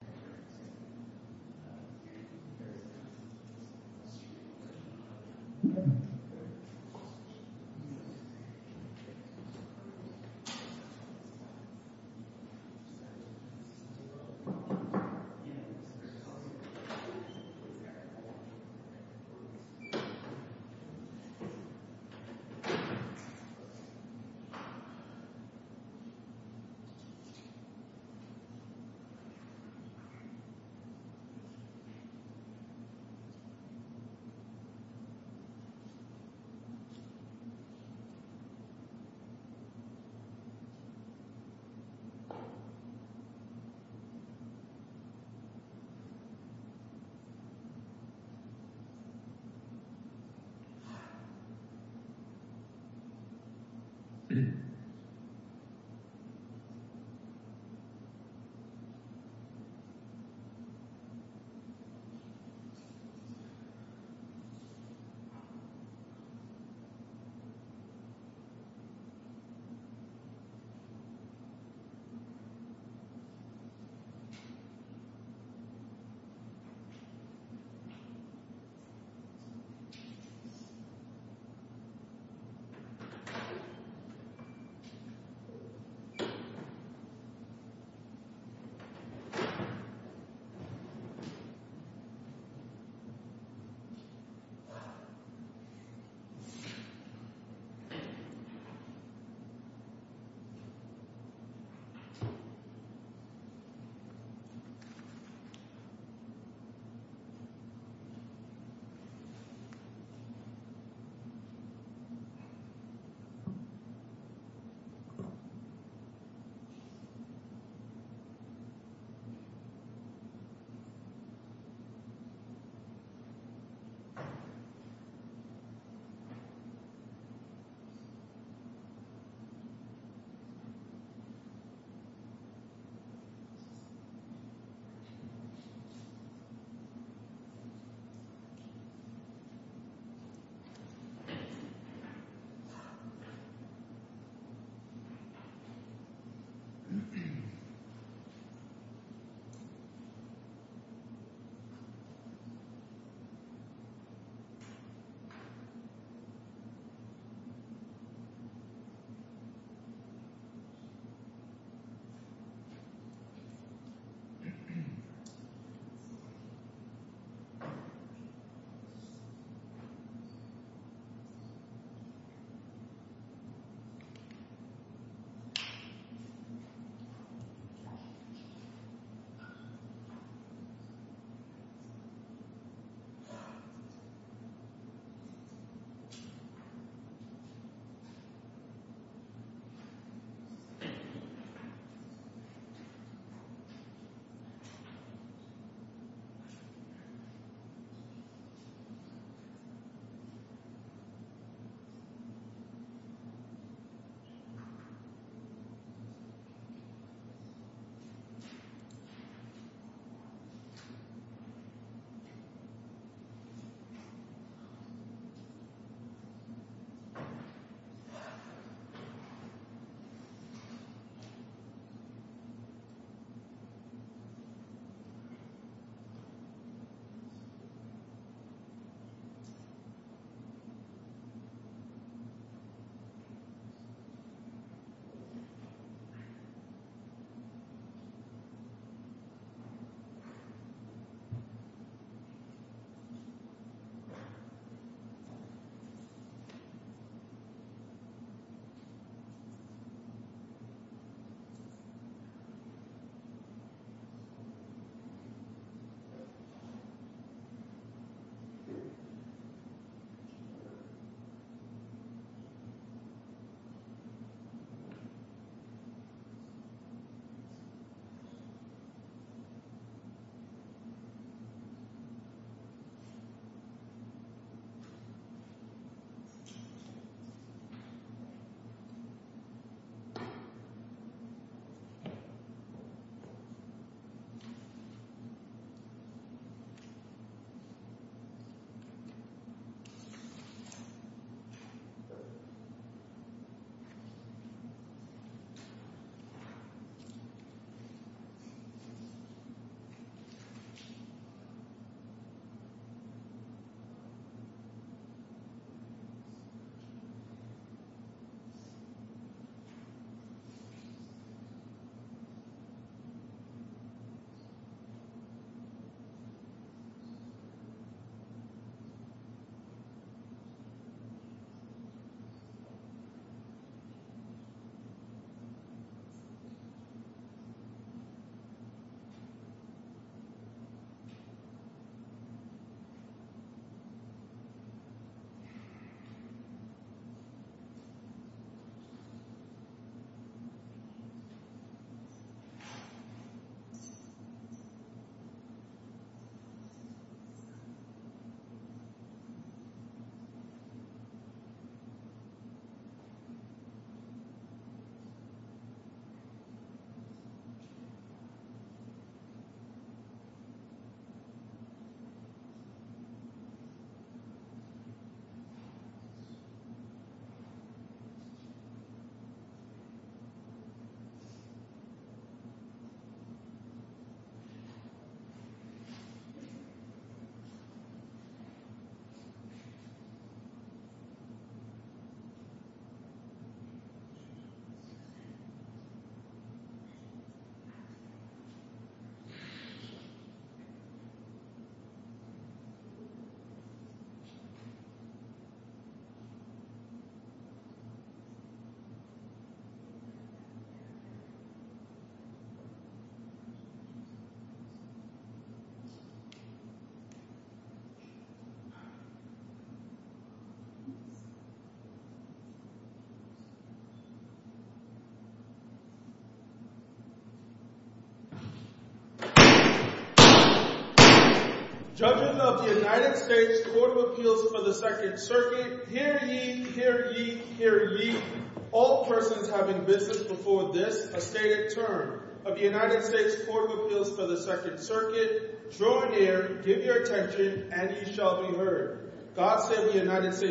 American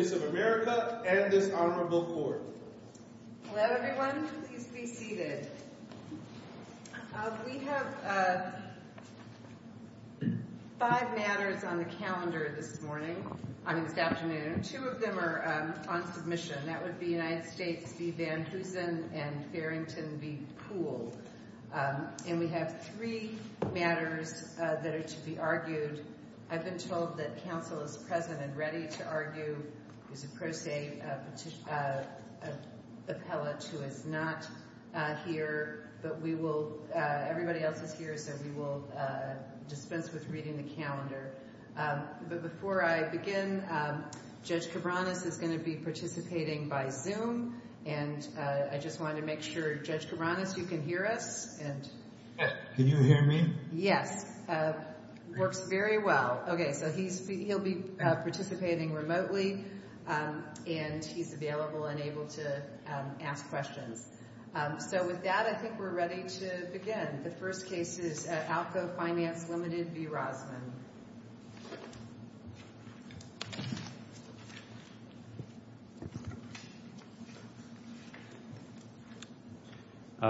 Defense League v. City of New Haven American Defense League v. City of New Haven American Defense League v. City of New Haven American Defense League v. City of New Haven American Defense League v. City of New Haven American Defense League v. City of New Haven American Defense League v. City of New Haven Washington, DC Thank you very much! Thank you! Judges of the United States Court of Appeals for the Second Circuit, hear ye, hear ye, hear ye, all persons having business before this estate's term of the United States Court of Appeals for the Second Circuit, throw an ear, give your attention, and you shall be heard. Thoughts of the United States of America and this Honorable Court. Let everyone be seated. We have five matters on the calendar this morning, I mean this afternoon. Two of them are on submission. That would be United States v. Van Heusen and Farrington v. Poole. And we have three matters that are to be argued. I've been told that counsel is present and ready to argue. There's a pro se appellate who is not here, but we will, everybody else is here, so we will dispense with reading the calendar. But before I begin, Judge Cabranes is going to be participating by Zoom, and I just wanted to make sure, Judge Cabranes, you can hear us? Yes, can you hear me? Yes. Works very well. Okay, so he'll be participating remotely, and she's available and able to ask questions. So with that, I think we're ready to begin. The first case is Alco Finance v. Rosman.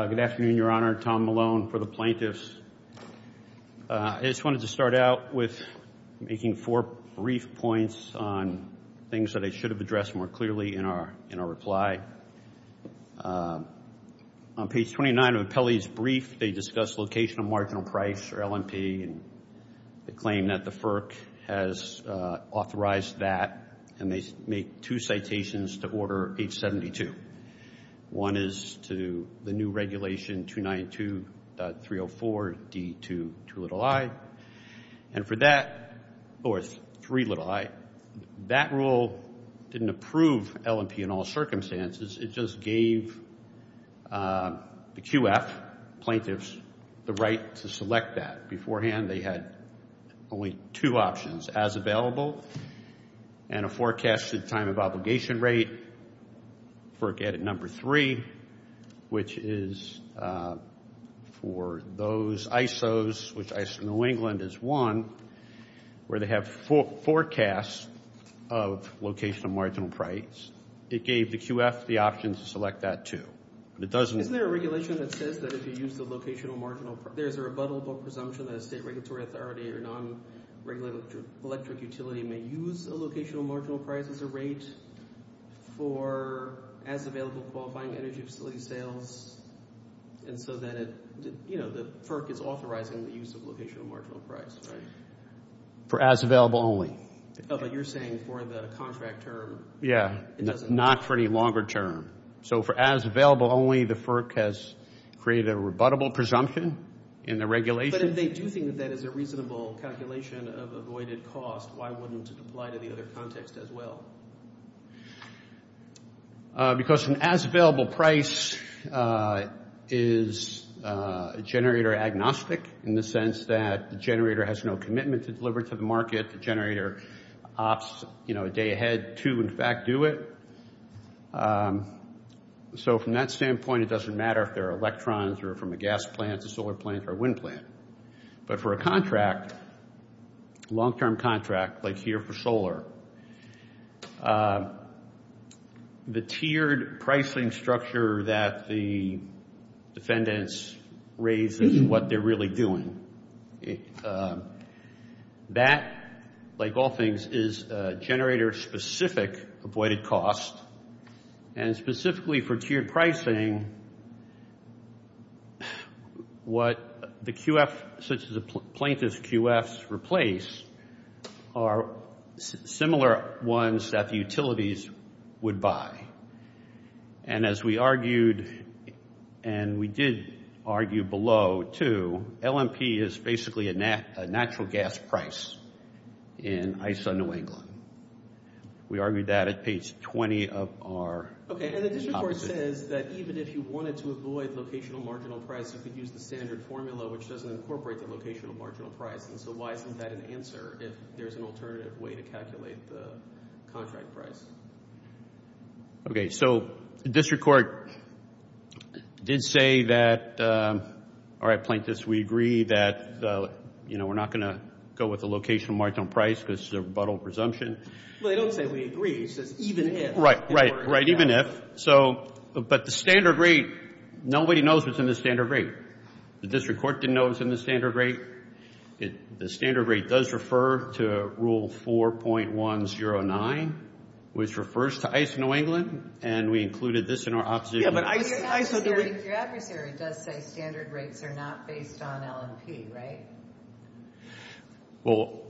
Good afternoon, Your Honor. Tom Malone for the plaintiffs. I just wanted to start out with making four brief points on things that I should have addressed more clearly in our reply. On page 29 of the appellee's brief, they discuss location of marginal price or L&P and the claim that the FERC has authorized that, and they make two citations to order page 72. One is to the new regulation 292.304D2i, and for that, of course, 3i. That rule didn't approve L&P in all circumstances. It just gave the QF plaintiffs the right to select that. Beforehand, they had only two options, as available and a forecasted time of obligation rate, FERC added number three, which is for those ISOs, which ISO New England is one, where they have forecasts of location of marginal price. It gave the QF the option to select that, too. Isn't there a regulation that says that if you use the location of marginal price, there's a rebuttable presumption that a state regulatory authority or non-regulatory electric utility may use a location of marginal price as a rate for as-available qualifying energy utility sales, and so then, you know, the FERC is authorizing the use of location of marginal price, right? For as-available only. Oh, but you're saying for the contract term. Yeah, not for any longer term. So for as-available only, the FERC has created a rebuttable presumption in the regulation. But if they do think that it's a reasonable calculation of avoided cost, why wouldn't it apply to the other context as well? Because an as-available price is generator agnostic, in the sense that the generator has no commitment to deliver to the market, the generator opts, you know, a day ahead to, in fact, do it. So from that standpoint, it doesn't matter if they're electrons or from a gas plant, a solar plant, or a wind plant. But for a contract, long-term contract, like here for solar, the tiered pricing structure that the defendants raise is what they're really doing. And that, like all things, is generator-specific avoided cost. And specifically for tiered pricing, what the QF, such as the plaintiff's QFs replace, are similar ones that the utilities would buy. And as we argued, and we did argue below, too, LNP is basically a natural gas price in ICE on New England. We argued that at page 20 of our policy. Okay, and then you, of course, said that even if you wanted to avoid locational marginal price, you could use the standard formula, which doesn't incorporate the locational marginal price. So why isn't that an answer if there's an alternative way to calculate the contract price? Okay, so the district court did say that, all right, plaintiffs, we agree that we're not going to go with the locational marginal price because it's a rebuttal presumption. Well, they don't say we agree. It says even if. Right, right, right, even if. But the standard rate, nobody knows what's in the standard rate. The district court didn't know what's in the standard rate. The standard rate does refer to Rule 4.109, which refers to ICE New England, and we included this in our opposition. Yeah, but your adversary does say standard rates are not based on LNP, right? Well,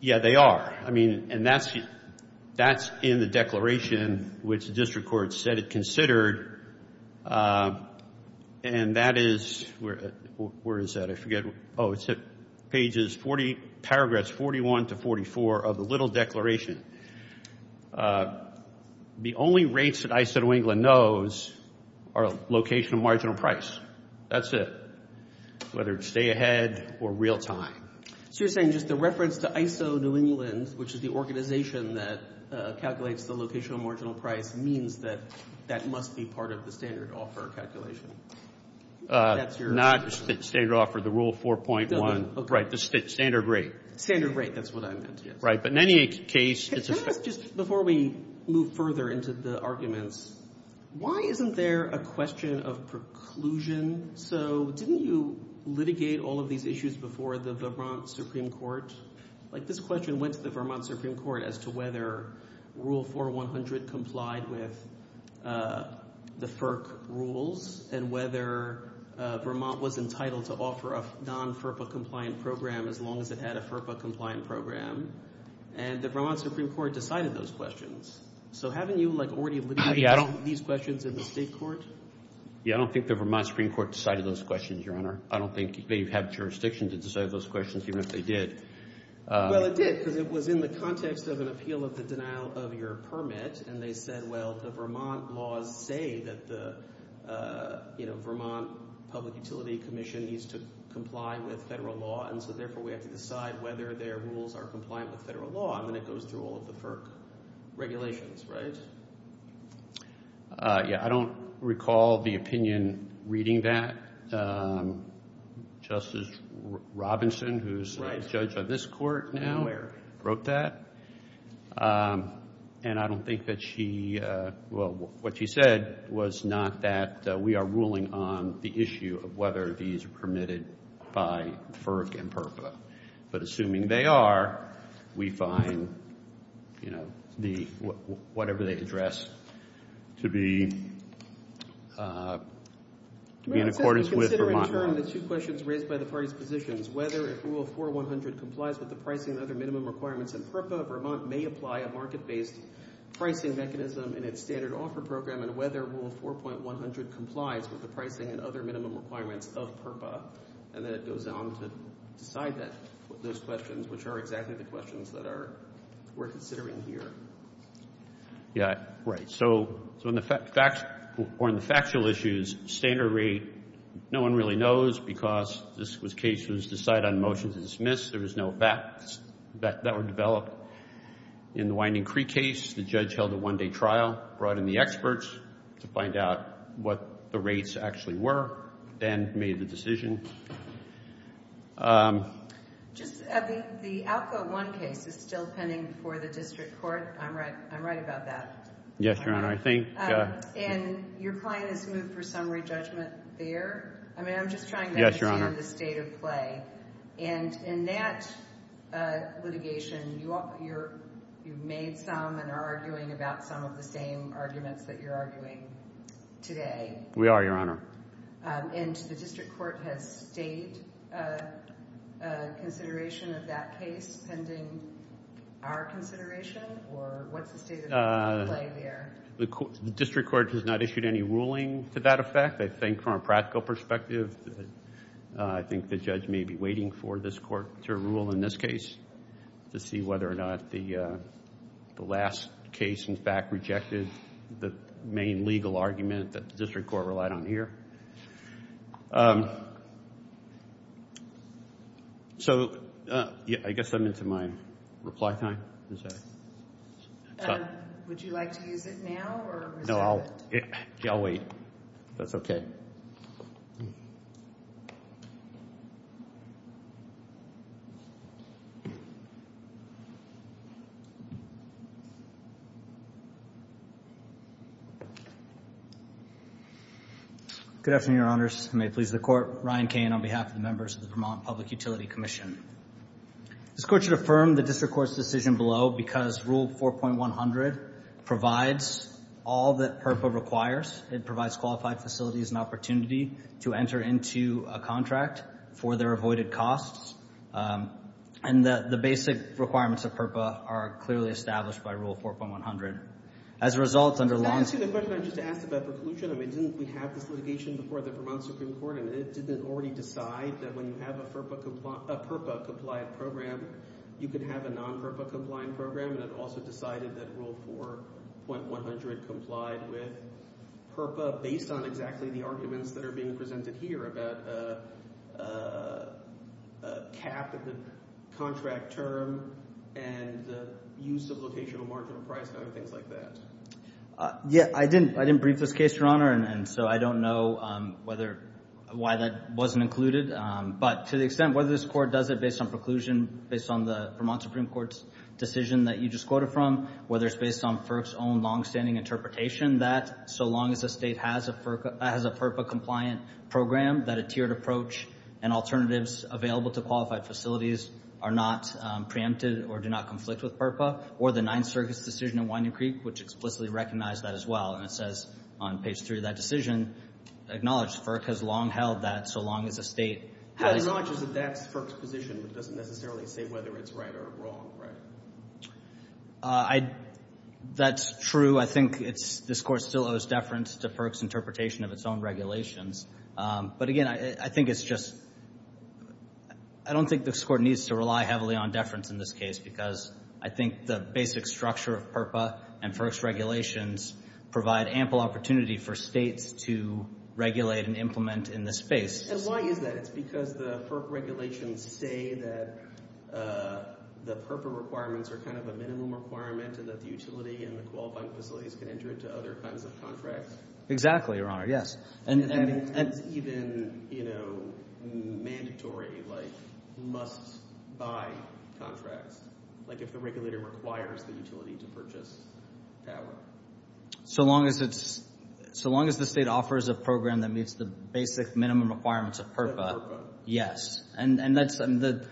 yeah, they are. I mean, and that's in the declaration, which the district court said it considered, and that is, where is that? I forget. Oh, it's at pages 40, paragraphs 41 to 44 of the little declaration. The only rates that ICE New England knows are locational marginal price. That's it, whether it's day ahead or real time. So you're saying just the reference to ICE New England, which is the organization that calculates the locational marginal price, means that that must be part of the standard offer calculation. Not standard offer, the Rule 4.1. Right, the standard rate. Standard rate, that's what I meant. Right, but in any case, it's a fact. Just before we move further into the arguments, why isn't there a question of preclusion? So didn't you litigate all of these issues before the Vermont Supreme Court? Like, this question went to the Vermont Supreme Court as to whether Rule 4.100 complied with the FERC rules and whether Vermont was entitled to offer a non-FERPA compliant program as long as it had a FERPA compliant program, and the Vermont Supreme Court decided those questions. So haven't you, like, already litigated these questions in the state court? Yeah, I don't think the Vermont Supreme Court decided those questions, Your Honor. I don't think they've had jurisdiction to decide those questions, even if they did. Well, it did, but it was in the context of an appeal of the denial of your permit, and they said, well, the Vermont laws say that the, you know, Vermont Public Utility Commission needs to comply with federal law, and so therefore we have to decide whether their rules are compliant with federal law. I mean, it goes through all of the FERC regulations, right? Yeah, I don't recall the opinion reading that. Justice Robinson, who's a judge of this court now, wrote that. And I don't think that she, well, what she said was not that we are ruling on the issue of whether these are permitted by FERC and FERPA, but assuming they are, we find, you know, whatever they address to be in accordance with Vermont law. We're considering, Your Honor, the two questions raised by the parties' positions, whether Rule 4.100 complies with the pricing and other minimum requirements of FERPA, Vermont may apply a market-based pricing mechanism in its standard offer program, and whether Rule 4.100 complies with the pricing and other minimum requirements of FERPA. And then it goes on to decide that, those questions, which are exactly the questions that we're considering here. Yeah, right. So on the factual issues, standard rate, no one really knows, because this case was decided on a motion to dismiss. There was no facts that were developed. In the Winding Creek case, the judge held a one-day trial, brought in the experts to find out what the rates actually were, then made the decision. Just, I mean, the Output 1 case is still pending before the district court. I'm right about that. Yes, Your Honor. And your client has moved for summary judgment there. I mean, I'm just trying to understand the state of play. Yes, Your Honor. And in that litigation, you made some and are arguing about some of the same arguments that you're arguing today. We are, Your Honor. And the district court has made a consideration of that case pending our consideration, or what's the play here? The district court has not issued any ruling to that effect. I think from a practical perspective, I think the judge may be waiting for this court to rule in this case to see whether or not the last case in fact rejected the main legal argument that the district court relied on here. So, I guess I'm missing my reply time. Would you like to use it now? No, I'll wait. That's okay. Good afternoon, Your Honors. May it please the court. Ryan Cain on behalf of the members of the Vermont Public Utility Commission. This court should affirm the district court's decision below because Rule 4.100 provides all that PERFA requires. It provides qualified facilities an opportunity to enter into a contract for their avoided costs. And the basic requirements of PERFA are clearly established by Rule 4.100. As a result, under long- Actually, the question I just asked about the solution, I mean, didn't we have the litigation before the Vermont Supreme Court? And did it already decide that when you have a PERFA-compliant program, you can have a non-PERFA-compliant program? And it also decided that Rule 4.100 complied with PERFA based on exactly the arguments that are being presented here about a cap of the contract term and the use of locational marginal price and things like that. Yeah, I didn't brief this case, Your Honor, and so I don't know why that wasn't included. But to the extent whether this court does it based on preclusion, based on the Vermont Supreme Court's decision that you just quoted from, whether it's based on FERC's own long-standing interpretation that so long as the state has a PERFA-compliant program, that a tiered approach and alternatives available to qualified facilities are not preempted or do not conflict with PERFA, or the Ninth Circuit's decision in Winyou Creek, which explicitly recognized that as well, and it says on page 3 of that decision, acknowledged FERC has long held that so long as the state- Acknowledges that that's FERC's position. It doesn't necessarily say whether it's right or wrong, right? That's true. I think this court still owes deference to FERC's interpretation of its own regulations. But again, I don't think this court needs to rely heavily on deference in this case because I think the basic structure of PERFA and FERC's regulations provide ample opportunity for states to regulate and implement in this space. And why is that? It's because the FERC regulations say that the PERFA requirements are kind of a minimum requirement and that the utility and the qualified facilities can enter into other kinds of contracts? Exactly, Your Honor. Yes. And even, you know, mandatory, like, must-buy contracts, like if the regulator requires the utility to purchase power? So long as the state offers a program that meets the basic minimum requirements of PERFA, yes. And the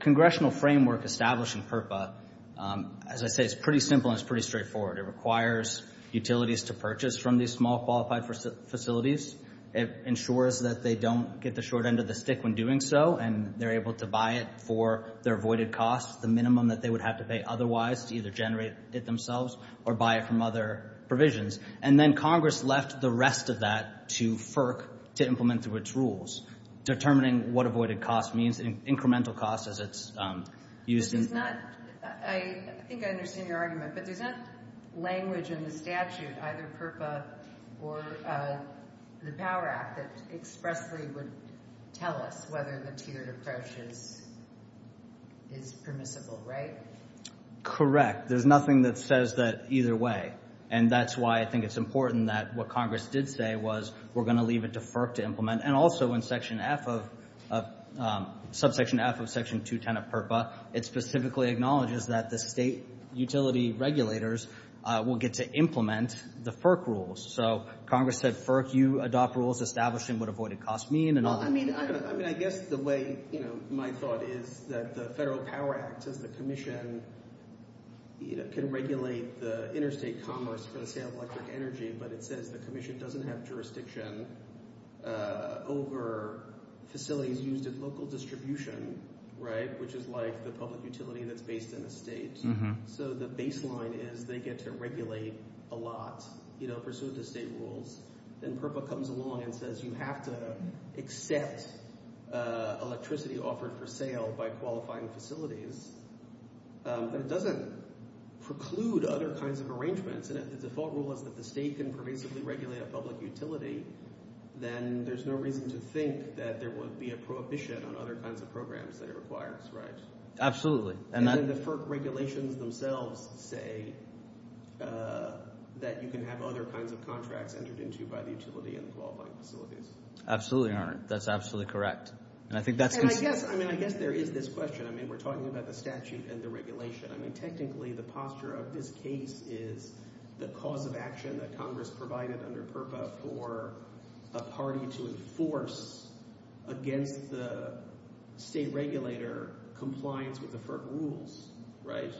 congressional framework established in PERFA, as I say, it's pretty simple and it's pretty straightforward. It requires utilities to purchase from these small qualified facilities. It ensures that they don't get the short end of the stick when doing so and they're able to buy it for their avoided cost, the minimum that they would have to pay otherwise to either generate it themselves or buy it from other provisions. And then Congress left the rest of that to FERC to implement through its rules, determining what avoided cost means, incremental cost as it's used. I think I understand your argument. But does that language in the statute, either PERFA or the Power Act, expressly would tell us whether the tiered approach is permissible, right? Correct. There's nothing that says that either way. And that's why I think it's important that what Congress did say was we're going to leave it to FERC to implement. And also in subsection F of section 210 of PERFA, it specifically acknowledges that the state utility regulators will get to implement the FERC rules. So Congress said FERC, you adopt rules establishing what avoided cost means and all that. I mean, I guess the way my thought is that the Federal Power Act, the commission can regulate the interstate commerce for the caribou electric energy, but it says the commission doesn't have jurisdiction over facilities used in local distribution, right, which is like the public utility that's based in the state. So the baseline is they get to regulate a lot pursuant to state rules. Then PERFA comes along and says you have to accept electricity offered for sale by qualifying facilities. But it doesn't preclude other kinds of arrangements. And if the default rule is that the state can prohibitively regulate a public utility, then there's no reason to think that there would be a prohibition on other kinds of programs that are required, right? Absolutely. And then the FERC regulations themselves say that you can have other kinds of contracts entered into by the utility and qualifying facilities. Absolutely, Your Honor. That's absolutely correct. And I guess there is this question. I mean, we're talking about the statute and the regulation. Technically, the posture of this case is the cause of action that Congress provided under PERFA for a party to enforce against the state regulator compliance with the FERC rules, right?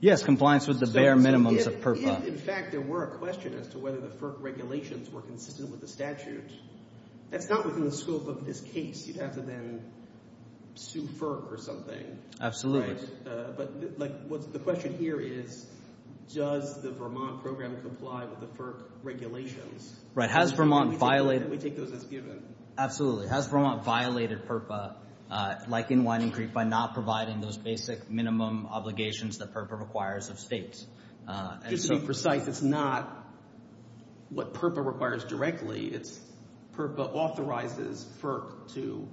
Yes, compliance with the bare minimums of PERFA. In fact, there were questions as to whether the FERC regulations were consistent with the statutes. If that was in the scope of this case, you'd have to then sue FERC or something, right? Absolutely. But the question here is, does the Vermont program comply with the FERC regulations? Right. Has Vermont violated... We take those as given. Absolutely. Has Vermont violated PERFA, like in Wining Creek, by not providing those basic minimum obligations that PERFA requires of states? To be precise, it's not what PERFA requires directly. It's PERFA authorizes FERC to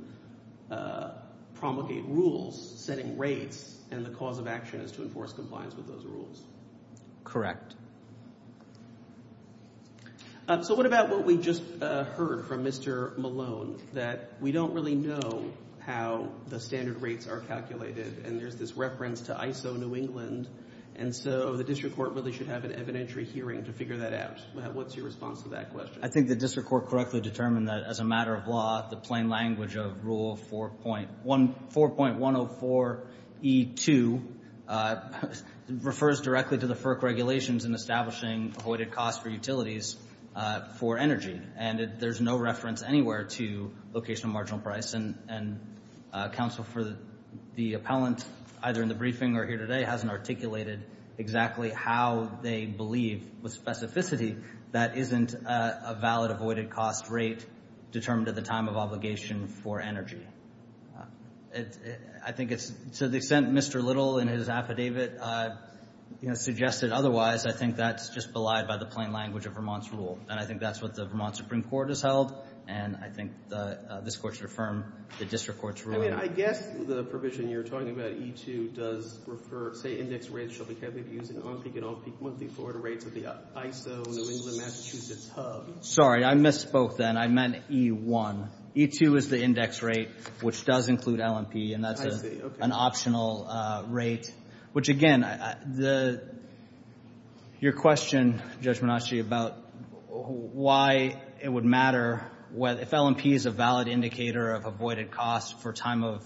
promulgate rules, setting rates, and the cause of action is to enforce compliance with those rules. Correct. So what about what we just heard from Mr. Malone, that we don't really know how the standard rates are calculated, and there's this reference to ISO New England. And so the district court really should have an evidentiary hearing to figure that out. What's your response to that question? I think the district court correctly determined that as a matter of law, the plain language of Rule 4.104E2 refers directly to the FERC regulations in establishing avoided costs for utilities for energy. And there's no reference anywhere to location of marginal price. And counsel for the appellant, either in the briefing or here today, hasn't articulated exactly how they believe with specificity that isn't a valid avoided cost rate determined at the time of obligation for energy. So they sent Mr. Little in his affidavit, suggested otherwise. I think that's just belied by the plain language of Vermont's rule. And I think that's what the Vermont Supreme Court has held. And I think this court should affirm the district court's ruling. I mean, I guess the provision you're talking about, E2, does refer, say, index rates shall be tabulated using on-peak and on-peak forward rates with the ISO New England Massachusetts HUD. Sorry, I misspoke then. I meant E1. E2 is the index rate, which does include L&P, and that's an optional rate. Which, again, your question, Judge Monacci, about why it would matter if L&P is a valid indicator of avoided cost for time of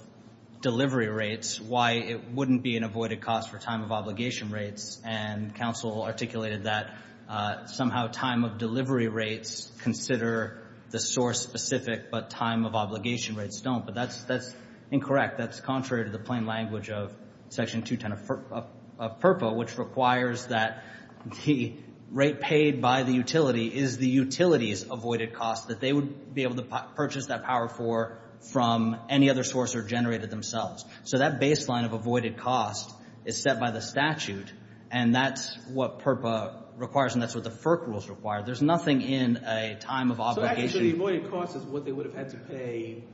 delivery rates, why it wouldn't be an avoided cost for time of obligation rates. And counsel articulated that somehow time of delivery rates consider the source specific, but time of obligation rates don't. But that's incorrect. That's contrary to the plain language of Section 210 of FERPA, which requires that the rate paid by the utility is the utility's avoided cost, that they would be able to purchase that power from any other source or generate it themselves. So that baseline of avoided cost is set by the statute, and that's what FERPA requires, and that's what the FERPA rules require. There's nothing in a time of obligation. So the avoided cost is what they would have had to pay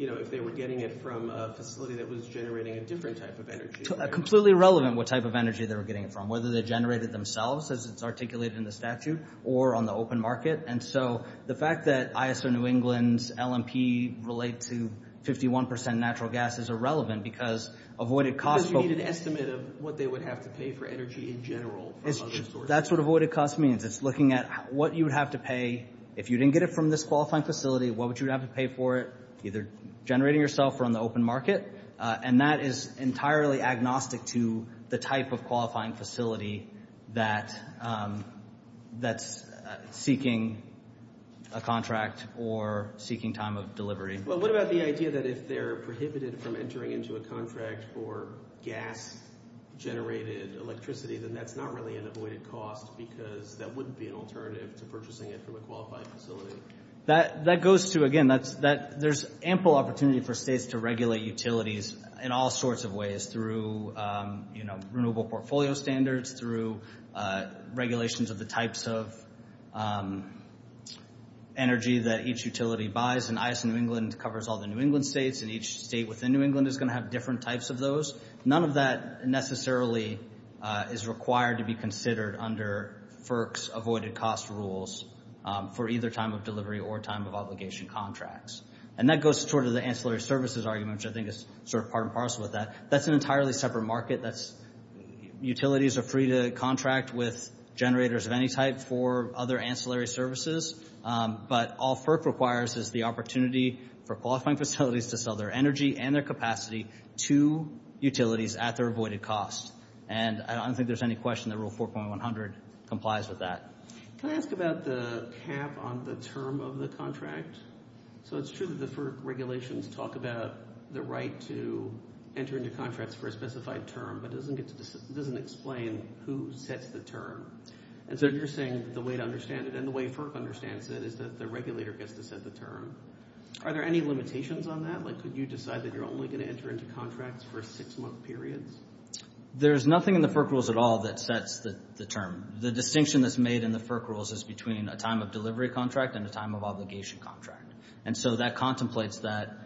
if they were getting it from a facility that was generating a different type of energy. Completely irrelevant what type of energy they were getting it from, whether they generated it themselves, as it's articulated in the statute, or on the open market. And so the fact that ISO New England's L&P relates to 51% natural gas is irrelevant because avoided cost… Because you need an estimate of what they would have to pay for energy in general from other sources. So that's what avoided cost means. It's looking at what you would have to pay if you didn't get it from this qualifying facility. What would you have to pay for it, either generating yourself or on the open market? And that is entirely agnostic to the type of qualifying facility that's seeking a contract or seeking time of delivery. Well, what about the idea that if they're prohibited from entering into a contract for gas-generated electricity, then that's not really an avoided cost because that wouldn't be an alternative to purchasing it from a qualifying facility. That goes to, again, there's ample opportunity for states to regulate utilities in all sorts of ways, through renewable portfolio standards, through regulations of the types of energy that each utility buys. And ISO New England covers all the New England states, and each state within New England is going to have different types of those. None of that necessarily is required to be considered under FERC's avoided cost rules for either time of delivery or time of obligation contracts. And that goes toward the ancillary services argument, which I think is sort of part and parcel of that. That's an entirely separate market. Utilities are free to contract with generators of any type for other ancillary services. But all FERC requires is the opportunity for qualifying facilities to sell their energy and their capacity to utilities at their avoided cost. And I don't think there's any question that Rule 4.100 complies with that. Can I ask about the cap on the term of the contract? So it's true that the FERC regulations talk about the right to enter into contracts for a specified term, but it doesn't explain who sets the term. And so you're saying the way to understand it and the way FERC understands it is that the regulator gets to set the term. Are there any limitations on that? Like, could you decide that you're only going to enter into contracts for a six-month period? There's nothing in the FERC rules at all that sets the term. The distinction that's made in the FERC rules is between a time of delivery contract and a time of obligation contract. And so that contemplates that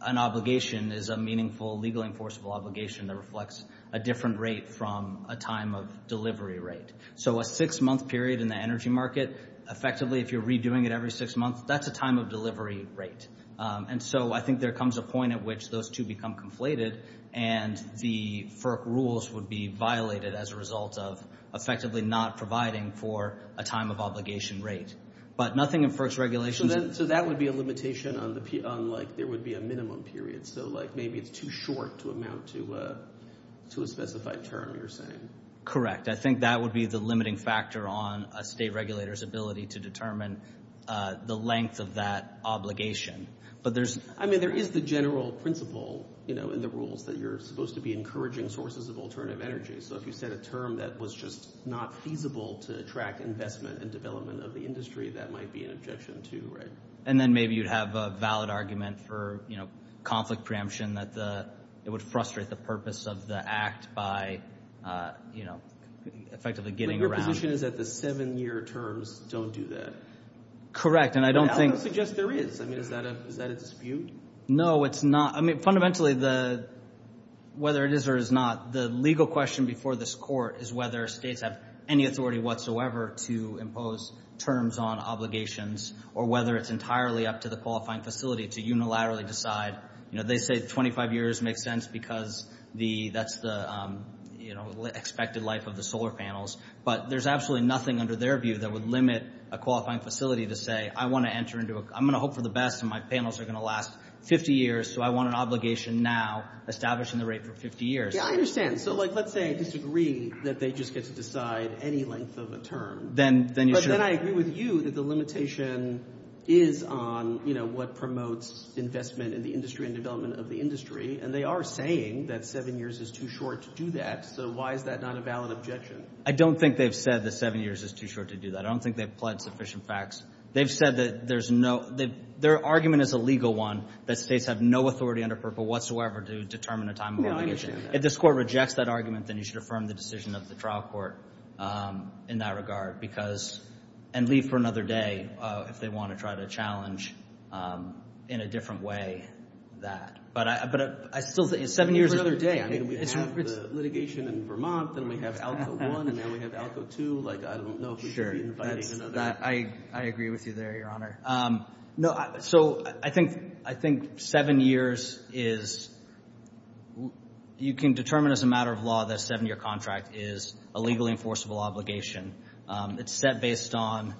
an obligation is a meaningful, legally enforceable obligation that reflects a different rate from a time of delivery rate. So a six-month period in the energy market, effectively, if you're redoing it every six months, that's a time of delivery rate. And so I think there comes a point at which those two become conflated, and the FERC rules would be violated as a result of effectively not providing for a time of obligation rate. But nothing in FERC's regulations... So that would be a limitation on, like, there would be a minimum period. So, like, maybe it's too short to amount to a specified term, you're saying? Correct. I think that would be the limiting factor on a state regulator's ability to determine the length of that obligation. But there's... I mean, there is the general principle, you know, in the rules, that you're supposed to be encouraging sources of alternative energy. So if you set a term that was just not feasible to attract investment and development of the industry, that might be an objection, too, right? And then maybe you'd have a valid argument for, you know, conflict preemption, that it would frustrate the purpose of the act by, you know, effectively getting around... So your position is that the seven-year terms don't do that? Correct, and I don't think... I would suggest there is. I mean, is that a dispute? No, it's not. I mean, fundamentally, whether it is or is not, the legal question before this court is whether states have any authority whatsoever to impose terms on obligations, or whether it's entirely up to the qualifying facility to unilaterally decide. You know, they say 25 years makes sense because that's the expected life of the solar panels. But there's absolutely nothing under their view that would limit a qualifying facility to say, I want to enter into a... I'm going to hope for the best and my panels are going to last 50 years, so I want an obligation now establishing the rate for 50 years. Yeah, I understand. So, like, let's say I disagree that they just get to decide any length of a term. Then you should... But then I agree with you that the limitation is on, you know, what promotes investment in the industry and development of the industry, and they are saying that seven years is too short to do that, so why is that not a valid objection? I don't think they've said that seven years is too short to do that. I don't think they've pledged sufficient facts. They've said that there's no... Their argument is a legal one, that states have no authority under FERPA whatsoever to determine a time of obligation. If this court rejects that argument, then you should affirm the decision of the trial court in that regard, because... And leave for another day if they want to try to challenge in a different way that. But I still think seven years is... Leave for another day. I mean, we have the litigation in Vermont, then we have ALCO 1, and now we have ALCO 2. Like, I don't know if we should be inviting another day. I agree with you there, Your Honor. No, so I think seven years is... You can determine as a matter of law that a seven-year contract is a legally enforceable obligation. It's set based on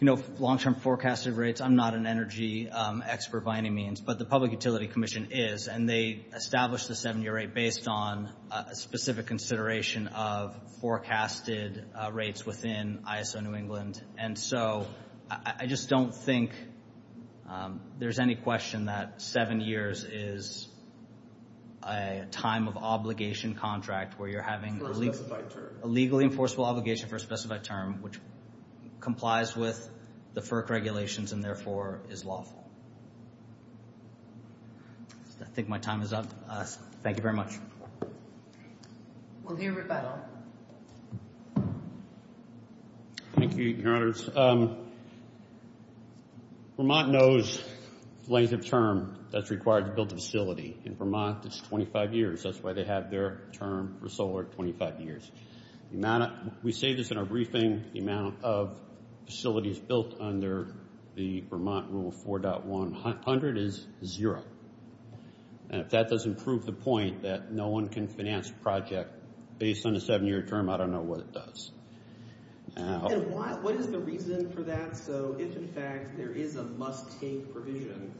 long-term forecasted rates. I'm not an energy expert by any means, but the Public Utility Commission is, and they established the seven-year rate based on a specific consideration of forecasted rates within ISO New England. And so, I just don't think there's any question that seven years is a time-of-obligation contract where you're having a legally enforceable obligation for a specified term which complies with the FERC regulations and therefore is lawful. I think my time is up. Thank you very much. We'll hear from Rebecca. Thank you, Your Honors. Vermont knows the length of term that's required to build a facility. In Vermont, it's 25 years. That's why they have their term for solar, 25 years. We say this in our briefing, the amount of facilities built under the Vermont Rule 4.100 is zero. And if that doesn't prove the point that no one can finance a project based on a seven-year term, I don't know what it does. And what is the reason for that? So, if in fact there is a must-take provision,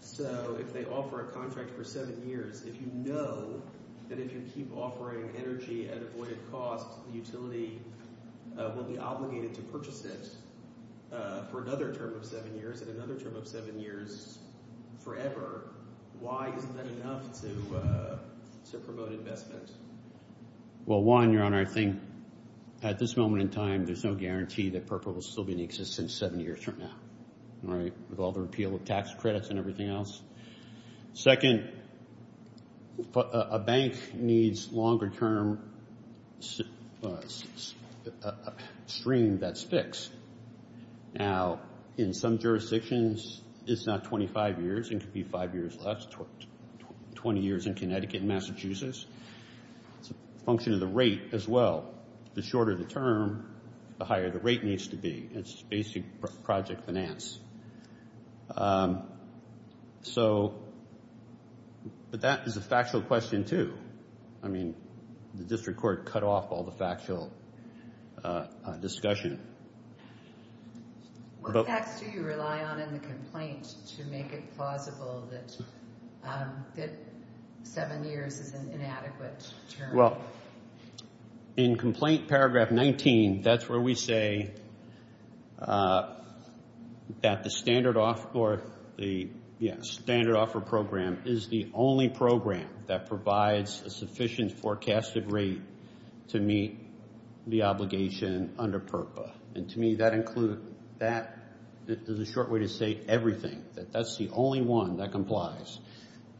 so if they offer a contract for seven years, if you know that if you keep offering energy at avoided cost, the utility will be obligated to purchase this for another term of seven years for another term of seven years forever, why is that enough to promote investments? Well, one, Your Honor, I think at this moment in time, there's no guarantee that PERPA will still be in existence seven years from now, right, with all the repeal of tax credits and everything else. Second, a bank needs longer-term stream that's fixed. Now, in some jurisdictions, it's not 25 years, it could be five years less, 20 years in Connecticut and Massachusetts. It's a function of the rate as well. The shorter the term, the higher the rate needs to be. It's basic project finance. So, but that is a factual question too. I mean, the district court cut off all the factual discussion. What facts do you rely on in the complaint to make it plausible that seven years is an inadequate term? Well, in Complaint Paragraph 19, that's where we say that the standard offer program is the only program that provides a sufficient forecasted rate to meet the obligation under PERPA. And to me, that includes, that is a short way to state everything, that that's the only one that complies.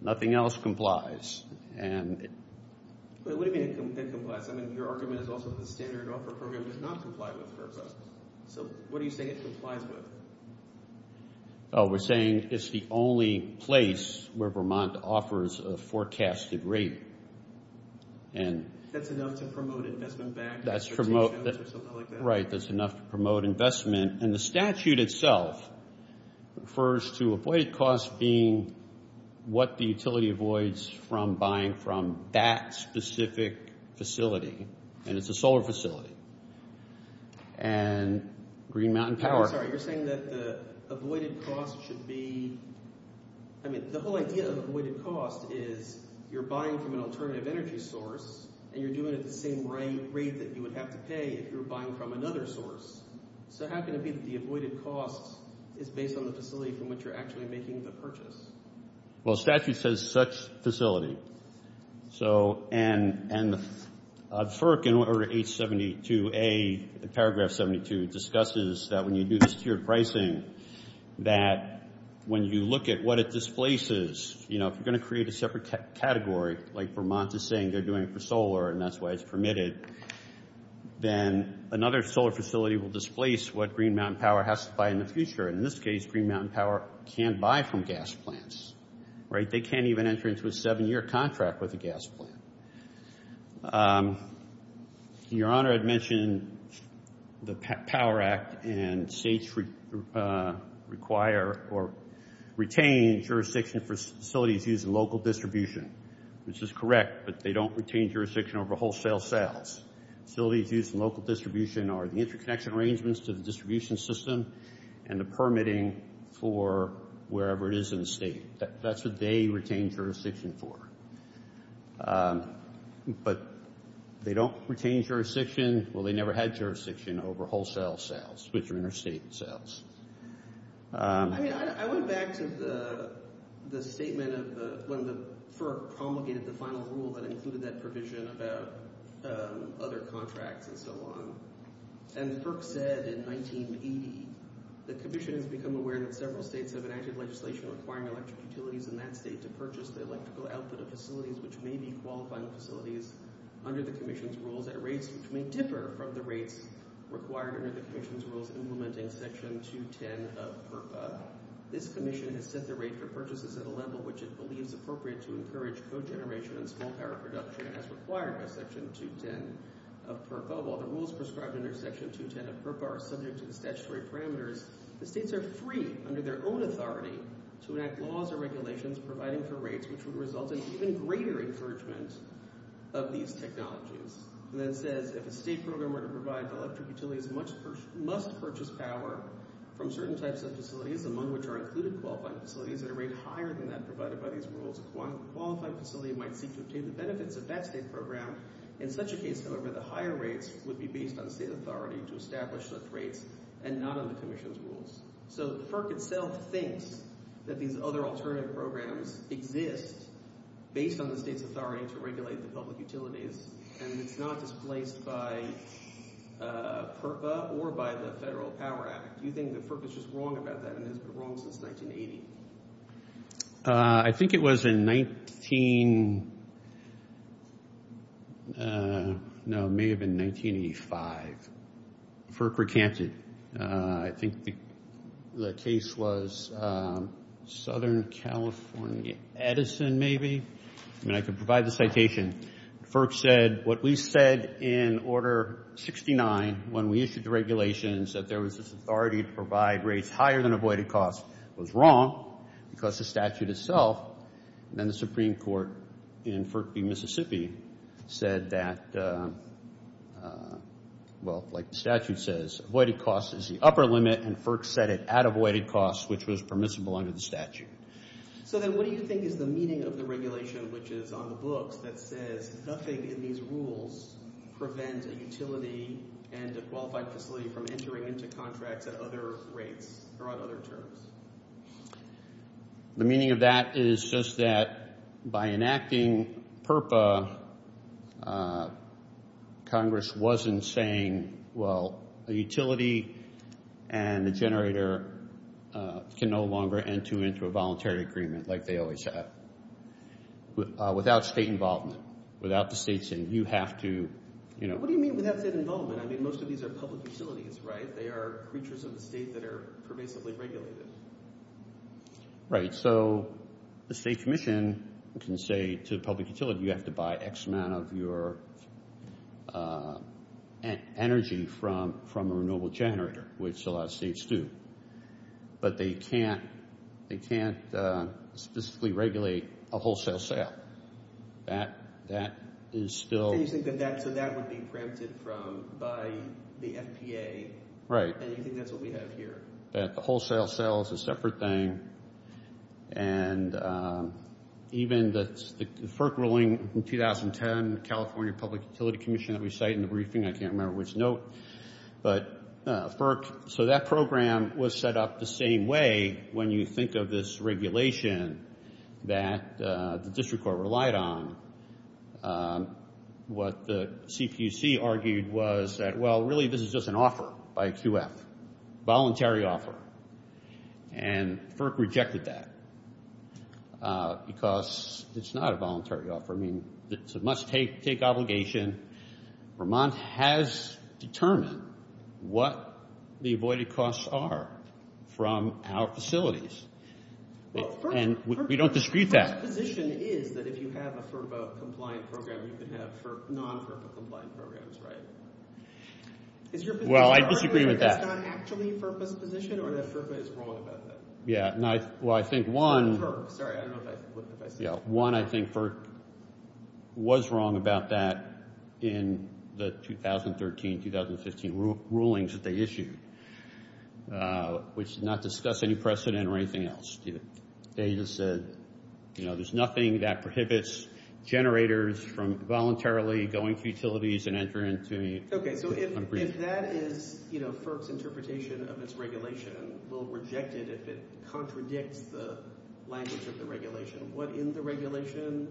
Nothing else complies. But what do you mean it complies? I mean, your argument is also the standard offer program does not comply with PERPA. So, what do you say it complies with? Oh, we're saying it's the only place where Vermont offers a forecasted rate. That's enough to promote investment back? Right, that's enough to promote investment. And the statute itself refers to avoid costs being what the utility avoids from buying from that specific facility. And it's a solar facility. And Green Mountain Power. I'm sorry, you're saying that the avoided cost should be, I mean, the whole idea of avoided cost is you're buying from an alternative energy source and you're doing it at the same rate that you would have to pay if you were buying from another source. So how can it be that the avoided cost is based on the facility from which you're actually making the purchase? Well, statute says such facility. So, and FERC in order H-72A, paragraph 72, discusses that when you do this tier pricing that when you look at what it displaces, you know, if you're going to create a separate category, like Vermont is saying they're doing for solar and that's why it's permitted, then another solar facility will displace what Green Mountain Power has to buy in the future. In this case, Green Mountain Power can't buy from gas plants. Right? They can't even enter into a seven-year contract with a gas plant. Your Honor had mentioned the Power Act and states require or retain jurisdiction for facilities used in local distribution, which is correct, but they don't retain jurisdiction over wholesale sales. Facilities used in local distribution are the interconnection arrangements to the distribution system and the permitting for wherever it is in the state. That's what they retain jurisdiction for. But they don't retain jurisdiction, well, they never had jurisdiction over wholesale sales, which are interstate sales. I mean, I went back to the statement of when the FERC promulgated the final rule that included that provision about other contracts and so on. And the FERC said in 1980, the Commission has become aware that several states have enacted legislation requiring electric utilities in that state to purchase the electrical output of facilities which may be qualifying facilities under the Commission's rules at rates which may differ from the rates required under the Commission's rules implementing Section 210 of FERPA. This Commission has set the rate for purchases at a level which it believes appropriate to encourage cogeneration and small power production as required by Section 210 of FERPA. And above all, the rules prescribed under Section 210 of FERPA are subject to the statutory parameters. The states are free, under their own authority, to enact laws or regulations providing for rates which would result in even greater encouragement of these technologies. And that said, if a state program were to provide electric utilities must-purchase power from certain types of facilities, among which are included qualifying facilities at a rate higher than that provided by these rules, one qualifying facility might seek to obtain the benefits of that state program. In such a case, however, the higher rates would be based on state authority to establish those rates and not on the Commission's rules. So FERPA itself thinks that these other alternative programs exist based on the state's authority to regulate the public utilities, and it is not displaced by FERPA or by the Federal Power Act. Do you think that FERPA is just wrong about that, and has been wrong since 1980? I think it was in 19... No, it may have been 1985. FERC recanted. I think the case was Southern California. Edison, maybe? And I can provide the citation. FERC said what we said in Order 69 when we issued the regulations, that there was this authority to provide rates that were higher than avoided costs. It was wrong because the statute itself, and then the Supreme Court in Mississippi, said that, well, like the statute says, avoided costs is the upper limit, and FERC set it at avoided costs, which was permissible under the statute. So then what do you think is the meaning of the regulation which is on the book that says nothing in these rules prevents a utility and a qualified facility from entering into contracts at other rates or on other terms? The meaning of that is just that by enacting FERPA, Congress wasn't saying, well, a utility and a generator can no longer enter into a voluntary agreement like they always have, without state involvement, without the state saying, you have to... What do you mean without state involvement? I mean, most of these are public facilities, right? They are creatures of the state that are permissibly regulated. Right, so the state commission can say to the public utility, you have to buy X amount of your energy from a renewable generator, which a lot of states do, but they can't specifically regulate a wholesale sale. That is still... What do you think of that? So that would be printed from, by the FDA. Right. And you think that's what we have here. Yeah, the wholesale sale is a separate thing. And even the FERC ruling in 2010, California Public Utility Commission, we cite in the briefing, I can't remember which note, but FERC, so that program was set up the same way when you think of this regulation that the district court relied on. What the CPC argued was that, well, really this is just an offer by QF, voluntary offer. And FERC rejected that because it's not a voluntary offer. I mean, it's a must take obligation. Vermont has determined what the avoided costs are from our facilities. And we don't dispute that. So your position is that if you have a FERPA compliant program, you can have non-FERPA compliant programs, right? Well, I disagree with that. Is your position that that's not actually a FERPA's position or that FERPA is wrong about that? Yeah, well, I think one... FERC, sorry, I don't know what FERC is. Yeah, one, I think, was wrong about that in the 2013, 2015 rulings that they issued, which did not discuss any precedent or anything else. They just said, you know, there's nothing that prohibits generators from voluntarily going to utilities and entering... Okay, so if that is, you know, FERC's interpretation of its regulation, we'll reject it if it contradicts the language of the regulation. What in the regulation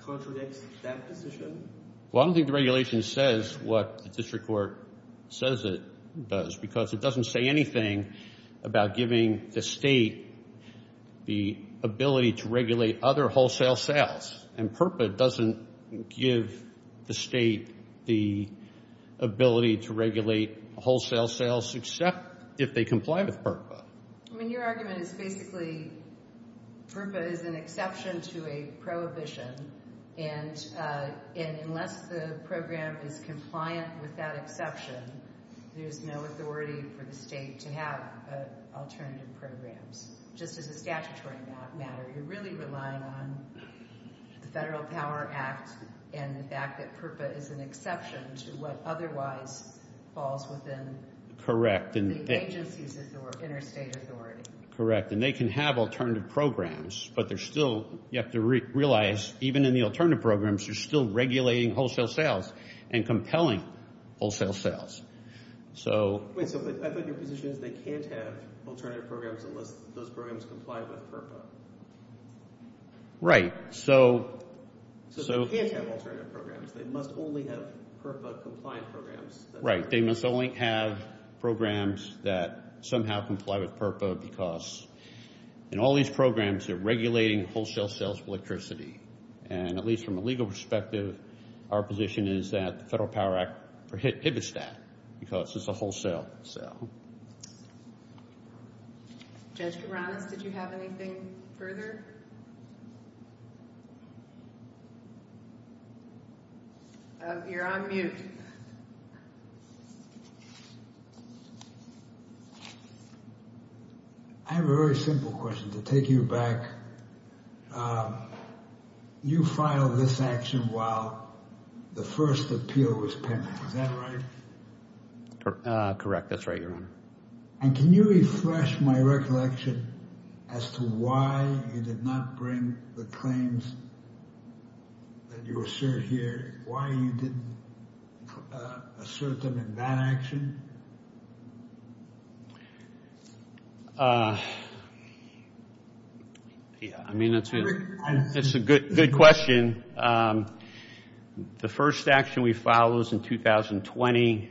contradicts that position? Well, I don't think the regulation says what the district court says it does because it doesn't say anything about giving the state the ability to regulate other wholesale sales. And FERPA doesn't give the state the ability to regulate wholesale sales except if they comply with FERPA. I mean, your argument is basically FERPA is an exception to a prohibition and unless the program is compliant with that exception, there's no authority for the state to have an alternative program. Just as a statutory matter, you're really relying on the Federal Power Act and the fact that FERPA is an exception to what otherwise falls within... Correct. ...the agency's interstate authority. Correct. And they can have alternative programs, but they're still, you have to realize, even in the alternative programs, you're still regulating wholesale sales and compelling wholesale sales. So... I thought your position is they can't have alternative programs unless those programs comply with FERPA. Right. So... So they can't have alternative programs. They must only have FERPA-compliant programs. Right. They must only have programs that somehow comply with FERPA because in all these programs, they're regulating wholesale sales for electricity. And at least from a legal perspective, our position is that the Federal Power Act prohibits that because it's a wholesale sale. Judge Geronimo, did you have anything further? You're on mute. I have a very simple question to take you back. You filed this action while the first appeal was pending. Is that right? Correct. That's right, Your Honor. And can you refresh my recollection as to why you did not bring the claims that you assert here, why you didn't assert them in that action? Yeah, I mean, that's a good question. The first action we filed was in 2020.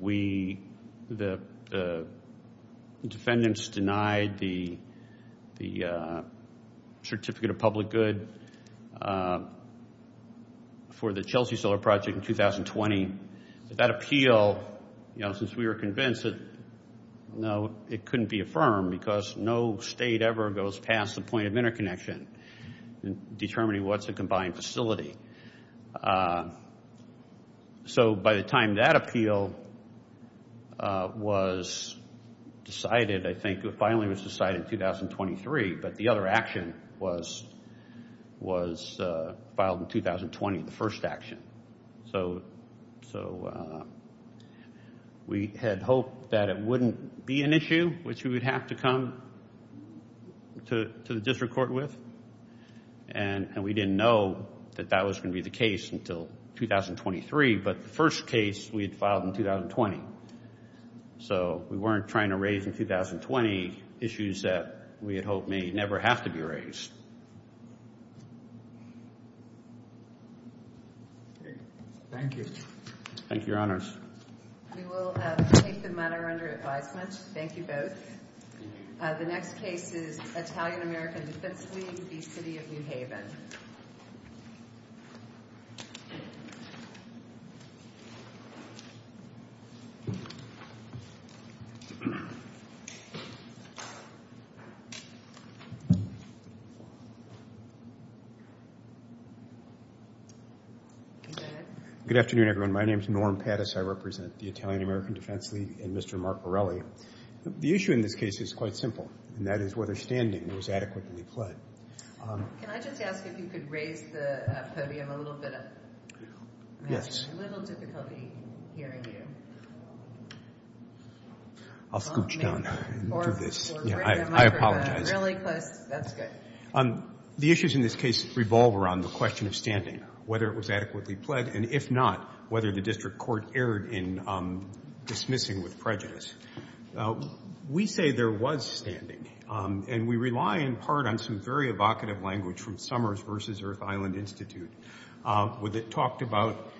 The defendants denied the certificate of public good for the Chelsea Solar Project in 2020. That appeal, since we were convinced that, no, it couldn't be affirmed because no state ever goes past the point of interconnection in determining what's a combined facility. So by the time that appeal was decided, I think it finally was decided in 2023, but the other action was filed in 2020, the first action. So we had hoped that it wouldn't be an issue which we would have to come to the district court with, and we didn't know that that was going to be the case until 2023, but the first case we had filed in 2020. So we weren't trying to raise in 2020 issues that we had hoped may never have to be raised. Thank you. Thank you, Your Honors. We will take the matter under advisement. Thank you both. The next case is Italian-American v. Queens v. City of New Haven. Good afternoon, everyone. My name is Norm Pattis. I represent the Italian-American Defense League and Mr. Mark Morelli. The issue in this case is quite simple, and that is whether standing was adequately played. Can I just ask if you could raise the podium a little bit up? Yes. We have a little difficulty hearing you. I'll scootch down. I apologize. That's good. The issues in this case revolve around the question of standing, whether it was adequately played, and if not, whether the district court erred in dismissing with prejudice. We say there was standing, and we rely in part on some very evocative language from Summers v. Earth Island Institute where they talked about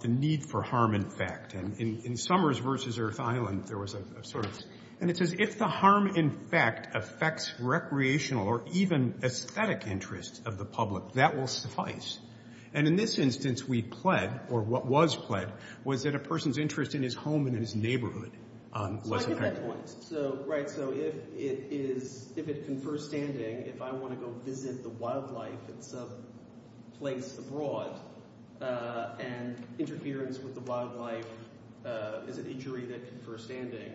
the need for harm in fact. In Summers v. Earth Island, there was a sort of, and it says if the harm in fact affects recreational or even aesthetic interests of the public, that will suffice. And in this instance, we pled, or what was pled, was that a person's interest in his home and in his neighborhood wasn't met. So I get that point. Right, so if it's in first standing, if I want to go visit the wildlife in some place abroad and interference with the wildlife in the future is in first standing,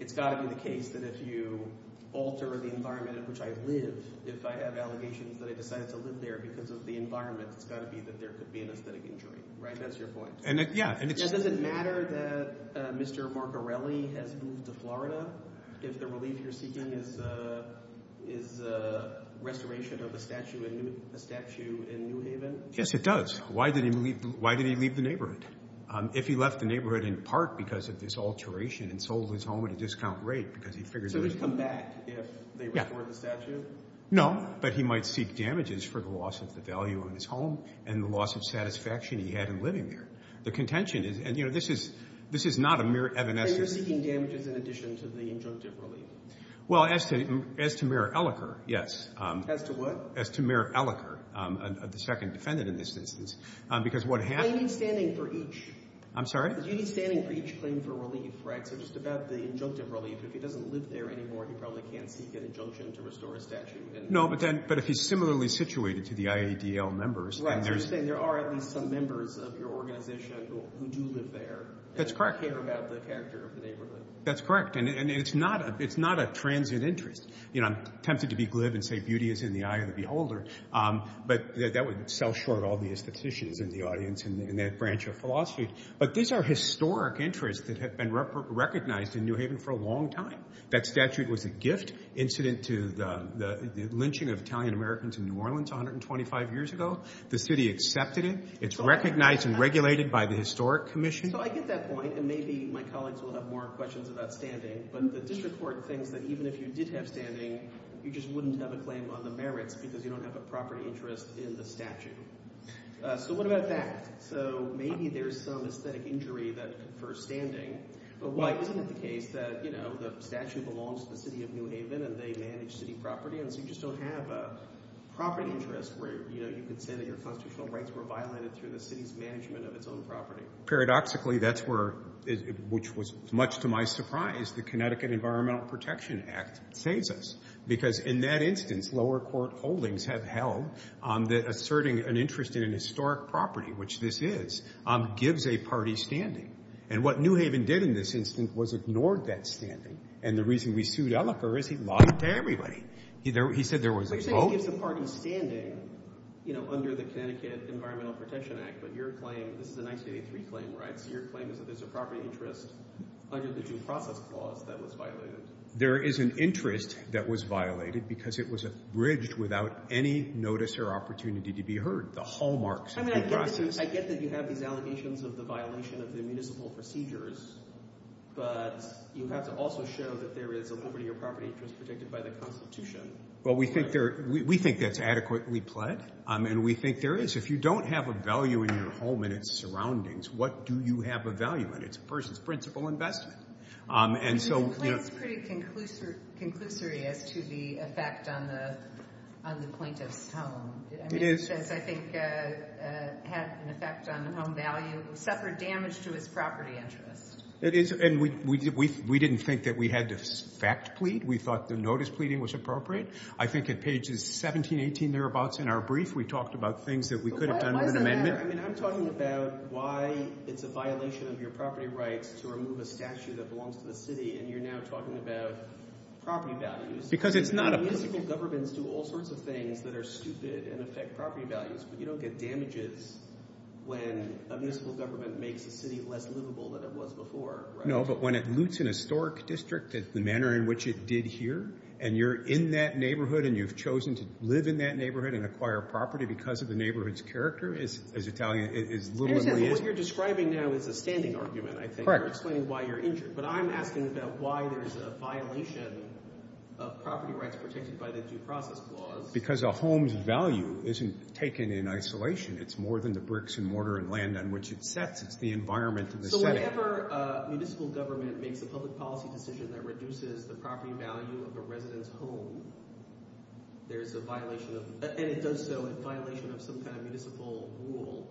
it's got to be the case that if you alter the environment in which I live, if I have allegations that I decide to live there because of the environment, it's got to be that there could be an aesthetic injury. Right, that's your point. And does it matter that Mr. Borgarelli has moved to Florida if the relief you're seeking is the restoration of a statue in New Haven? Yes, it does. Why did he leave the neighborhood? If he left the neighborhood in part because of this alteration and sold his home at a discount rate because he figured that it would come back if they restored the statue? No, but he might seek damages for the loss of the value of his home and the loss of satisfaction he had in living there. The contention is, you know, this is not a mere evanescence. Well, as to Mayor Ellicott, yes. As to what? As to Mayor Ellicott, the second defendant in this instance, because what happened... I'm sorry? No, but if he's similarly situated to the IADL members... That's correct. That's correct. And it's not a transient interest. You know, I'm tempted to be glib and say, beauty is in the eye of the beholder, but that would sell short all the institutions in the audience and that branch of philosophy. But these are historic interests that have been recognized in New Haven for a long time. That statue was a gift incident to the lynching of Italian-Americans in New Orleans 125 years ago. The city accepted it. It's recognized and regulated by the Historic Commission. So I get that point, and maybe my colleagues will have more questions about standing, but the district court thinks that even if you did have standing, you just wouldn't have a claim on the merits because you don't have a proper interest in the statue. So what about that? So maybe there's some aesthetic injury for standing. Well, isn't it the case that, you know, the statue belongs to the city of New Haven and they manage city property, and so you just don't have a property interest where you contend that your constitutional rights were violated through the city's management of its own property? Paradoxically, that's where, which was much to my surprise, the Connecticut Environmental Protection Act saves us because in that instance, lower court holdings have held that asserting an interest in a historic property, which this is, gives a party standing. And what New Haven did in this instance was ignored that standing, and the reason we sued Ellifer is he lied to everybody. He said there was no... But you said you gave the party standing, you know, under the Connecticut Environmental Protection Act, but your claim, this is the 1983 claim, right? Your claim is that there's a property interest under the due process clause that was violated. There is an interest that was violated because it was abridged without any notice or opportunity to be heard. The hallmarks of due process... I mean, I get that you have the allegations of the violation of the municipal procedures, but you have to also show that there is a liberty or property interest protected by the Constitution. Well, we think that's adequately pledged, and we think there is. If you don't have a value in your home and its surroundings, what do you have a value on? It's a person's principal investment. And so, you know... It's pretty conclusive to the effect on the plaintiff's home. It is. I think it has an effect on the home value, except for damage to its property interest. It is. And we didn't think that we had to fact-plead. We thought the notice-pleading was appropriate. I think at pages 17, 18 thereabouts in our brief, we talked about things that we could have done with an amendment. I'm talking about why it's a violation of your property rights to remove a statue that belongs to the city, and you're now talking about property values. Because it's not a... Municipal governments do all sorts of things that are stupid and affect property values, but you don't get damages when a municipal government makes a city less livable than it was before. No, but when it loots an historic district, it's the manner in which it did here, and you're in that neighborhood, and you've chosen to live in that neighborhood and acquire property because of the neighborhood's character, as Italian... What you're describing now is a standing argument, I think, to explain why you're injured. But I'm asking about why there's a violation of property rights protected by the Due Process Clause. Because a home's value isn't taken in isolation. It's more than the bricks and mortar and land on which it sits. It's the environment for the setting. So whenever a municipal government makes a public policy decision that reduces the property value of a resident's home, there's a violation of... And it does so in violation of some kind of municipal rule.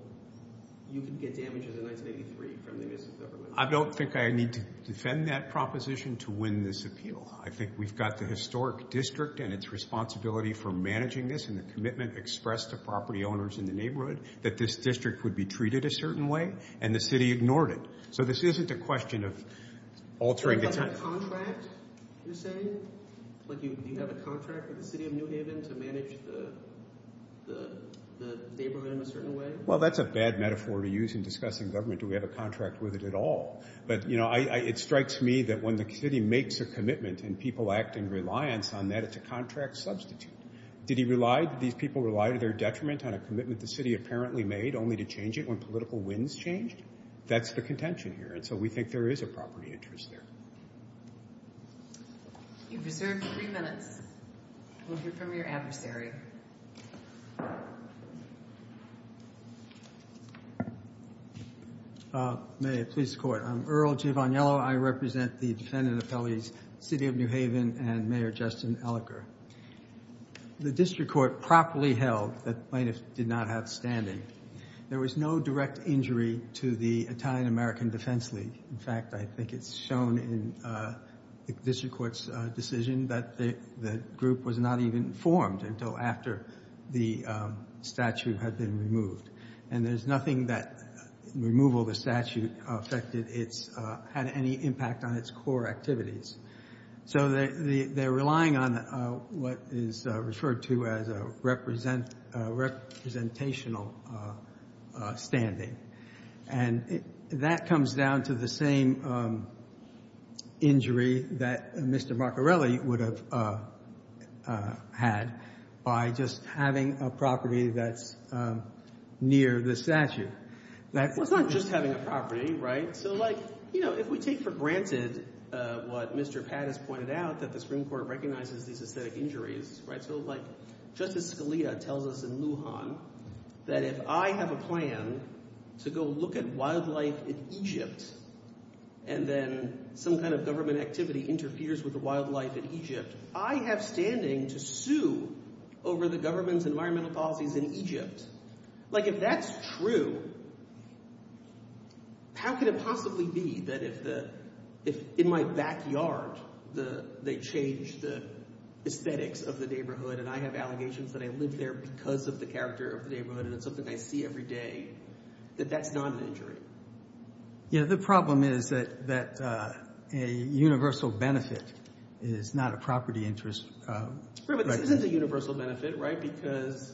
You can get damages in 1983 from the municipal government. I don't think I need to defend that proposition to win this appeal. I think we've got the historic district and its responsibility for managing this and the commitment expressed to property owners in the neighborhood that this district would be treated a certain way, and the city ignored it. So this isn't a question of altering... Do you have a contract, you're saying? Do you have a contract with the city of New Haven to manage the neighborhood in a certain way? Well, that's a bad metaphor to use in discussing government. Do we have a contract with it at all? But, you know, it strikes me that when the city makes a commitment and people act in reliance on that, it's a contract substitute. Do these people rely to their detriment on a commitment the city apparently made only to change it when political winds change? That's the contention here, and so we think there is a property interest there. You deserve three minutes. We'll hear from your adversary. Mayor, police court. I'm Earl Givagniello. I represent the defendant appellees city of New Haven and Mayor Justin Elicker. The district court properly held that plaintiffs did not have standing. There was no direct injury to the Italian-American Defense League. In fact, I think it's shown in the district court's decision that the group was not even formed until after the statute had been removed, and there's nothing that removal of the statute affected its... had any impact on its core activities. So they're relying on what is referred to as a representational standing, and that comes down to the same injury that Mr. Maccarelli would have had by just having a property that's near the statute. It's not just having a property, right? So, like, you know, if we take for granted what Mr. Pattis pointed out, that the Supreme Court recognizes the injuries, right? So, like, Justice Scalia tells us in Lujan that if I have a plan to go look at wildlife in Egypt and then some kind of government activity interferes with the wildlife in Egypt, I have standing to sue over the government's environmental policies in Egypt. Like, if that's true, how can it possibly be that if the... if in my backyard, they change the aesthetics of the neighborhood and I have allegations that I live there because of the character of the neighborhood and it's something I see every day, that that's not an injury? Yeah, the problem is that a universal benefit is not a property interest. Right, but this is a universal benefit, right? Because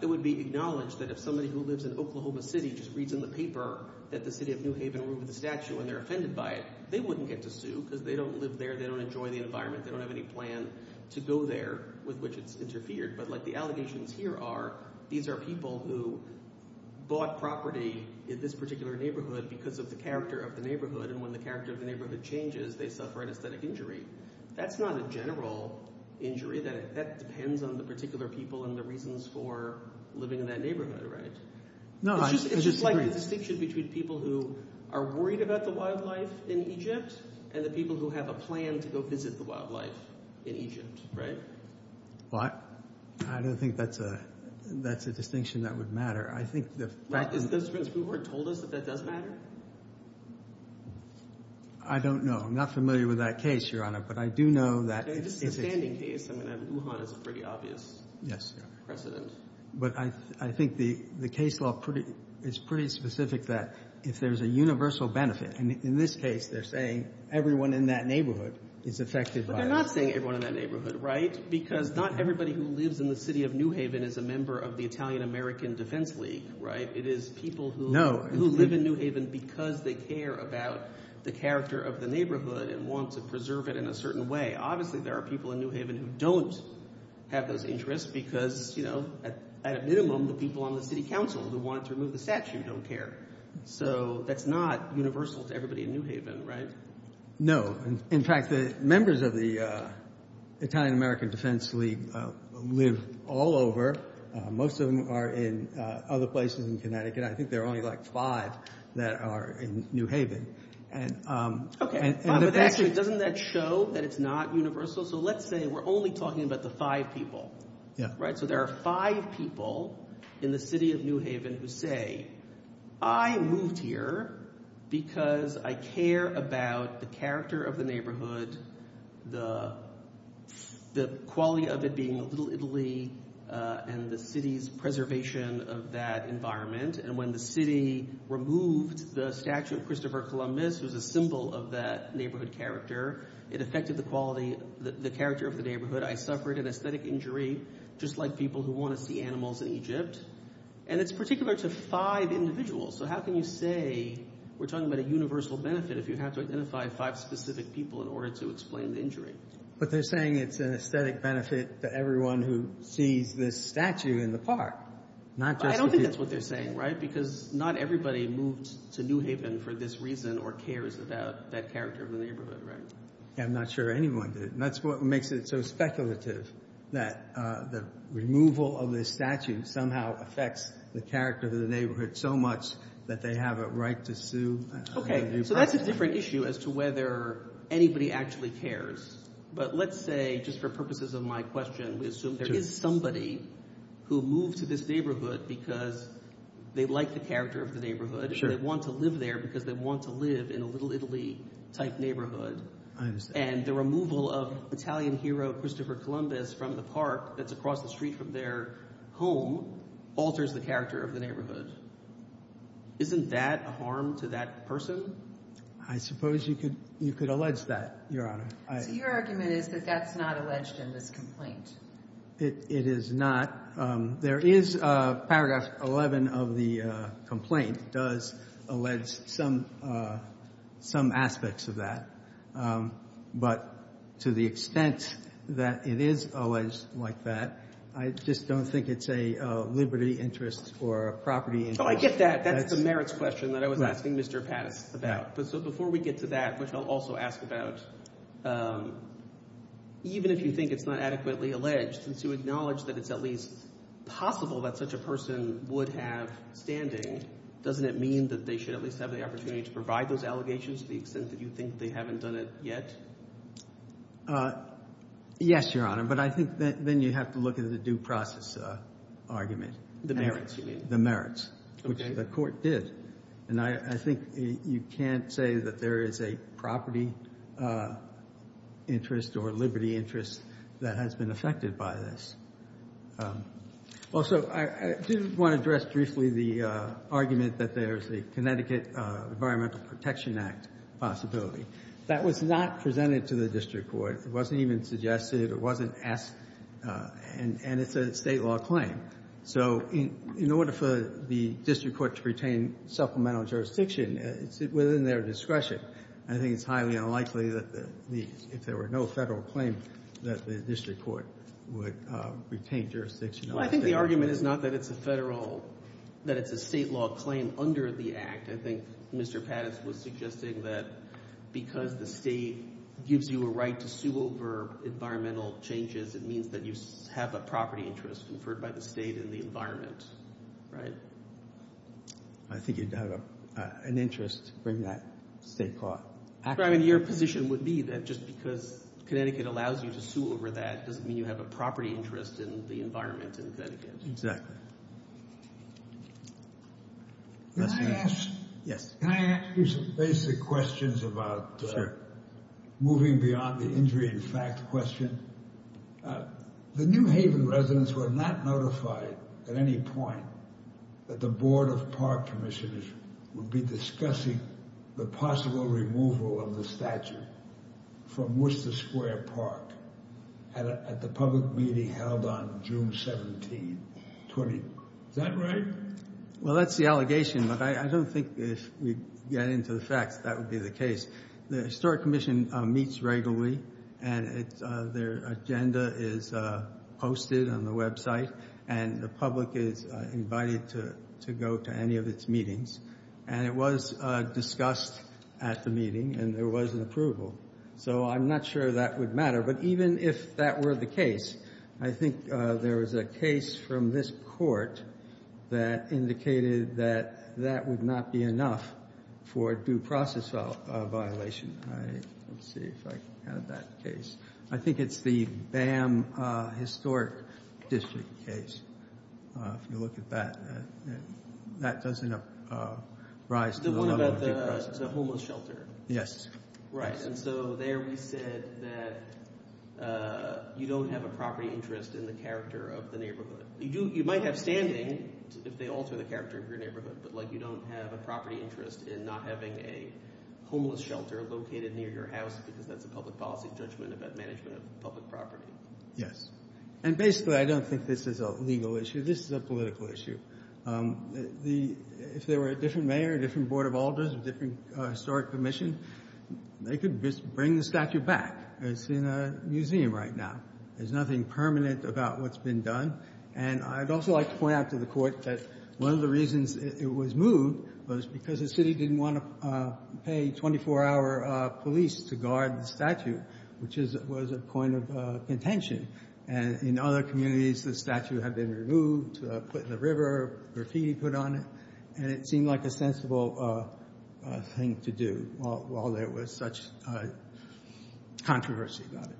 it would be acknowledged that if somebody who lives in Oklahoma City just reads in the paper that the city of New Haven ruined the statute and they're offended by it, they wouldn't get to sue because they don't live there, they don't enjoy the environment, they don't have any plans to go there with which it's interfered. But, like, the allegations here are these are people who bought property in this particular neighborhood because of the character of the neighborhood and when the character of the neighborhood changes, they suffer an aesthetic injury. That's not a general injury. That depends on the particular people and the reasons for living in that neighborhood, right? It's just like a distinction between people who are worried about the wildlife in Egypt and the people who have a plan to go visit the wildlife in Egypt, right? What? I don't think that's a distinction that would matter. I think that... Has the defense court told us that that doesn't matter? I don't know. I'm not familiar with that case, Your Honor, but I do know that... It's a standing case. I mean, Lujan is a pretty obvious precedent. But I think the case law is pretty specific that if there's a universal benefit, in this case, they're saying everyone in that neighborhood is affected by it. But they're not saying everyone in that neighborhood, right? Because not everybody who lives in the city of New Haven is a member of the Italian-American Defense League, right? It is people who live in New Haven because they care about the character of the neighborhood and want to preserve it in a certain way. Obviously, there are people in New Haven who don't have those interests because, you know, at a minimum, the people on the city council who want to remove the statue don't care. So that's not universal to everybody in New Haven, right? No. In fact, the members of the Italian-American Defense League live all over. Most of them are in other places in Connecticut. I think there are only like five that are in New Haven. Okay. But actually, doesn't that show that it's not universal? So let's say we're only talking about the five people, right? So there are five people in the city of New Haven who say, I moved here because I care about the character of the neighborhood and the quality of it being a little Italy and the city's preservation of that environment. And when the city removed the statue of Christopher Columbus as a symbol of that neighborhood character, it affected the quality, the character of the neighborhood. I suffered an aesthetic injury, just like people who want to see animals in Egypt. And it's particular to five individuals. So how can you say, we're talking about a universal benefit if you have to identify five specific people in order to explain the injury? But they're saying it's an aesthetic benefit for everyone who sees this statue in the park. I don't think that's what they're saying, right? Because not everybody moves to New Haven for this reason or cares about that character of the neighborhood, right? I'm not sure anyone does. And that's what makes it so speculative that the removal of the statue somehow affects the character of the neighborhood so much that they have a right to sue. Okay. So that's a different issue as to whether anybody actually cares. But let's say, just for purposes of my question, assume there is somebody who moves to this neighborhood because they like the character of the neighborhood and they want to live there because they want to live in a Little Italy type neighborhood. I understand. And the removal of Italian hero Christopher Columbus from the park that's across the street from their home alters the character of the neighborhood. Isn't that harm to that person? I suppose you could allege that, Your Honor. Your argument is that that's not alleged in this complaint. It is not. There is Paragraph 11 of the complaint does allege some aspects of that. But to the extent that it is alleged like that, I just don't think it's a liberty interest or a property interest. I get that. That's the merits question that I was asking Mr. Paddock for that. But before we get to that, I guess I'll also ask about even if you think it's not adequately alleged, since you acknowledge that it's at least possible that such a person would have standing, doesn't it mean that they should at least have the opportunity to provide those allegations to the extent that you think they haven't done it yet? Yes, Your Honor. But I think then you have to look at the due process argument. The merits, you mean? The merits, which the court did. And I think you can't say that there is a property interest or liberty interest that has been affected by this. Also, I just want to address briefly the argument that there's a Connecticut Environmental Protection Act possibility. That was not presented to the district court. It wasn't even suggested. It wasn't asked. And it's a state law claim. So in order for the district court to retain supplemental jurisdiction, within their discretion, I think it's highly unlikely that if there were no federal claim, that the district court would retain jurisdiction. I think the argument is not that it's a federal, that it's a state law claim under the act. I think Mr. Pattis was suggesting that because the state gives you a right to sue over environmental changes, it means that you have a property interest conferred by the state and the environment, right? I think you'd have an interest from that state court. Your position would be that just because Connecticut allows you to sue over that, doesn't mean you have a property interest in the environment in Connecticut. Can I ask you some basic questions about moving beyond the injury in fact question? The New Haven residents were not notified at any point that the Board of Park Commissioners would be discussing the possible removal of the statute from Worcester Square Park at the public meeting held on June 17, 2020. Is that right? Well, that's the allegation, but I don't think if we get into the fact, that would be the case. The Historic Commission meets regularly, and their agenda is posted on the website, and the public is invited to go to any of its meetings, and it was discussed at the meeting, and there was an approval. So I'm not sure that would matter, but even if that were the case, I think there was a case from this court that indicated that that would not be enough for due process violation. Let's see if I can have that case. I think it's the BAM Historic District case. If you look at that, that doesn't rise to the level... The one about the homeless shelter. Yes. Right, and so there we said that you don't have a property interest in the character of the neighborhood. You might have standing, if they alter the character of your neighborhood, but you don't have a property interest in not having a homeless shelter located near your house because that's a public policy judgment about management of public property. Yes. And basically, I don't think this is a legal issue. This is a political issue. If there were a different mayor, a different board of alders, a different historic commission, they could bring the statue back. It's in a museum right now. There's nothing permanent about what's been done, and I'd also like to point out to the court that one of the reasons it was moved was because the city didn't want to pay 24-hour police to guard the statue, which was a point of contention. In other communities, the statue had been removed, put in a river, graffiti put on it, and it seemed like a sensible thing to do while there was such controversy about it.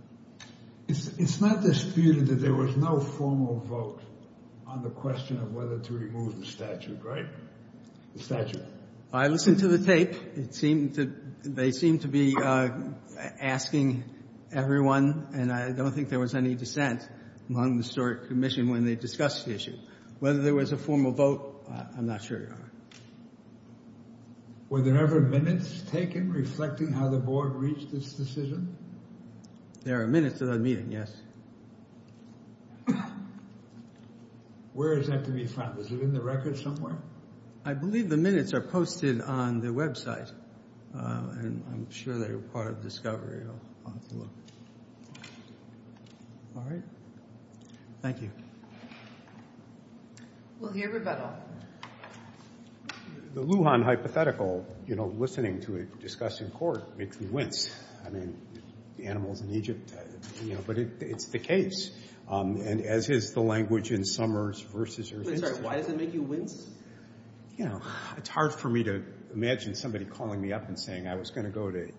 It's not disputed that there was no formal vote on the question of whether to remove the statue, right? The statue. I listened to the tapes. They seem to be asking everyone, and I don't think there was any dissent among the historic commission when they discussed the issue. Whether there was a formal vote, I'm not sure. Were there ever minutes taken reflecting how the board reached this decision? There are minutes that I'm meeting, yes. Where is that to be found? Is it in the records somewhere? I believe the minutes are posted on the website, and I'm sure they're part of the discovery. All right. Thank you. We'll hear about it. The Lujan hypothetical, you know, listening to it discussed in court makes me wince. I mean, animals in Egypt, you know, but it's the case. And as is the language in Summers versus... Sorry, why does it make you wince? You know, it's hard for me to imagine somebody calling me up and saying I was going to go to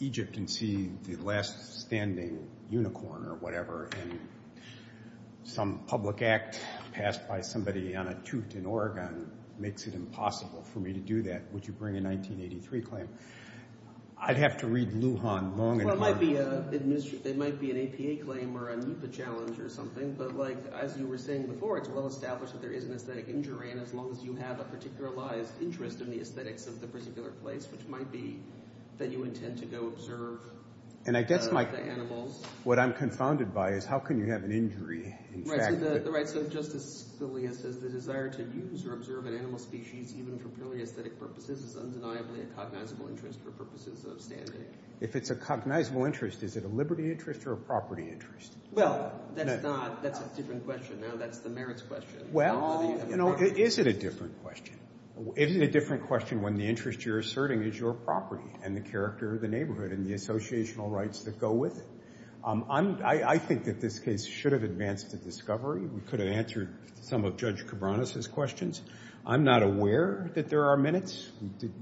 Egypt and see the last standing unicorn or whatever and some public act passed by somebody on a toot in Oregon makes it impossible for me to do that. Would you bring a 1983 claim? I'd have to read Lujan long and hard. It might be an ATA claim or a Lupa challenge or something, but like as you were saying before, it's well established that there is an aesthetic injury and as long as you have a particular interest in the aesthetics of the particular place, which might be that you intend to go observe the animals... what I'm confounded by is how can you have an injury in fact... Right, so just as Celia says, the desire to use or observe an animal species even for purely aesthetic purposes is undeniably a cognizable interest for purposes of standing. If it's a cognizable interest, is it a liberty interest or a property interest? Well, that's not... That's a different question now. That's the merits question. Well, you know, is it a different question? Isn't it a different question when the interest you're asserting is your property and the character of the neighborhood and the associational rights that go with it? I think that this case should have advanced to discovery. We could have answered some of Judge Cabranes' questions. I'm not aware that there are minutes.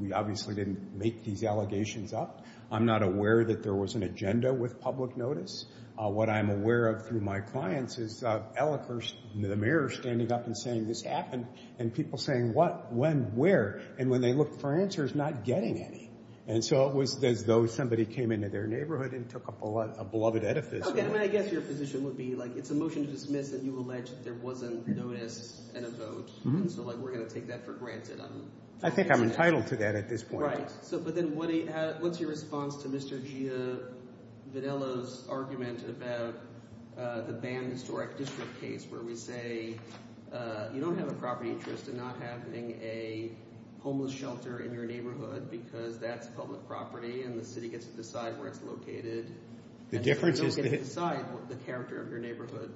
We obviously didn't make these allegations up. I'm not aware that there was an agenda with public notice. What I'm aware of through my clients is the mayor standing up and saying, this happened and people saying, what, when, where? And when they looked for answers, not getting any. And so it was as though somebody came into their neighborhood and took a beloved edifice. Okay, and I guess your position would be, like, it's a motion to submit that you allege that there wasn't a notice and a vote. Mm-hmm. So, like, we're going to take that for granted. I think I'm entitled to that at this point. Right. So, but then, what's your response to Mr. Villa's argument about the banned historic district case where we say you don't have a property interest in not having a homeless shelter in your neighborhood because that's public property and the city gets to decide where it's located. The difference is you don't get to decide the character of your neighborhood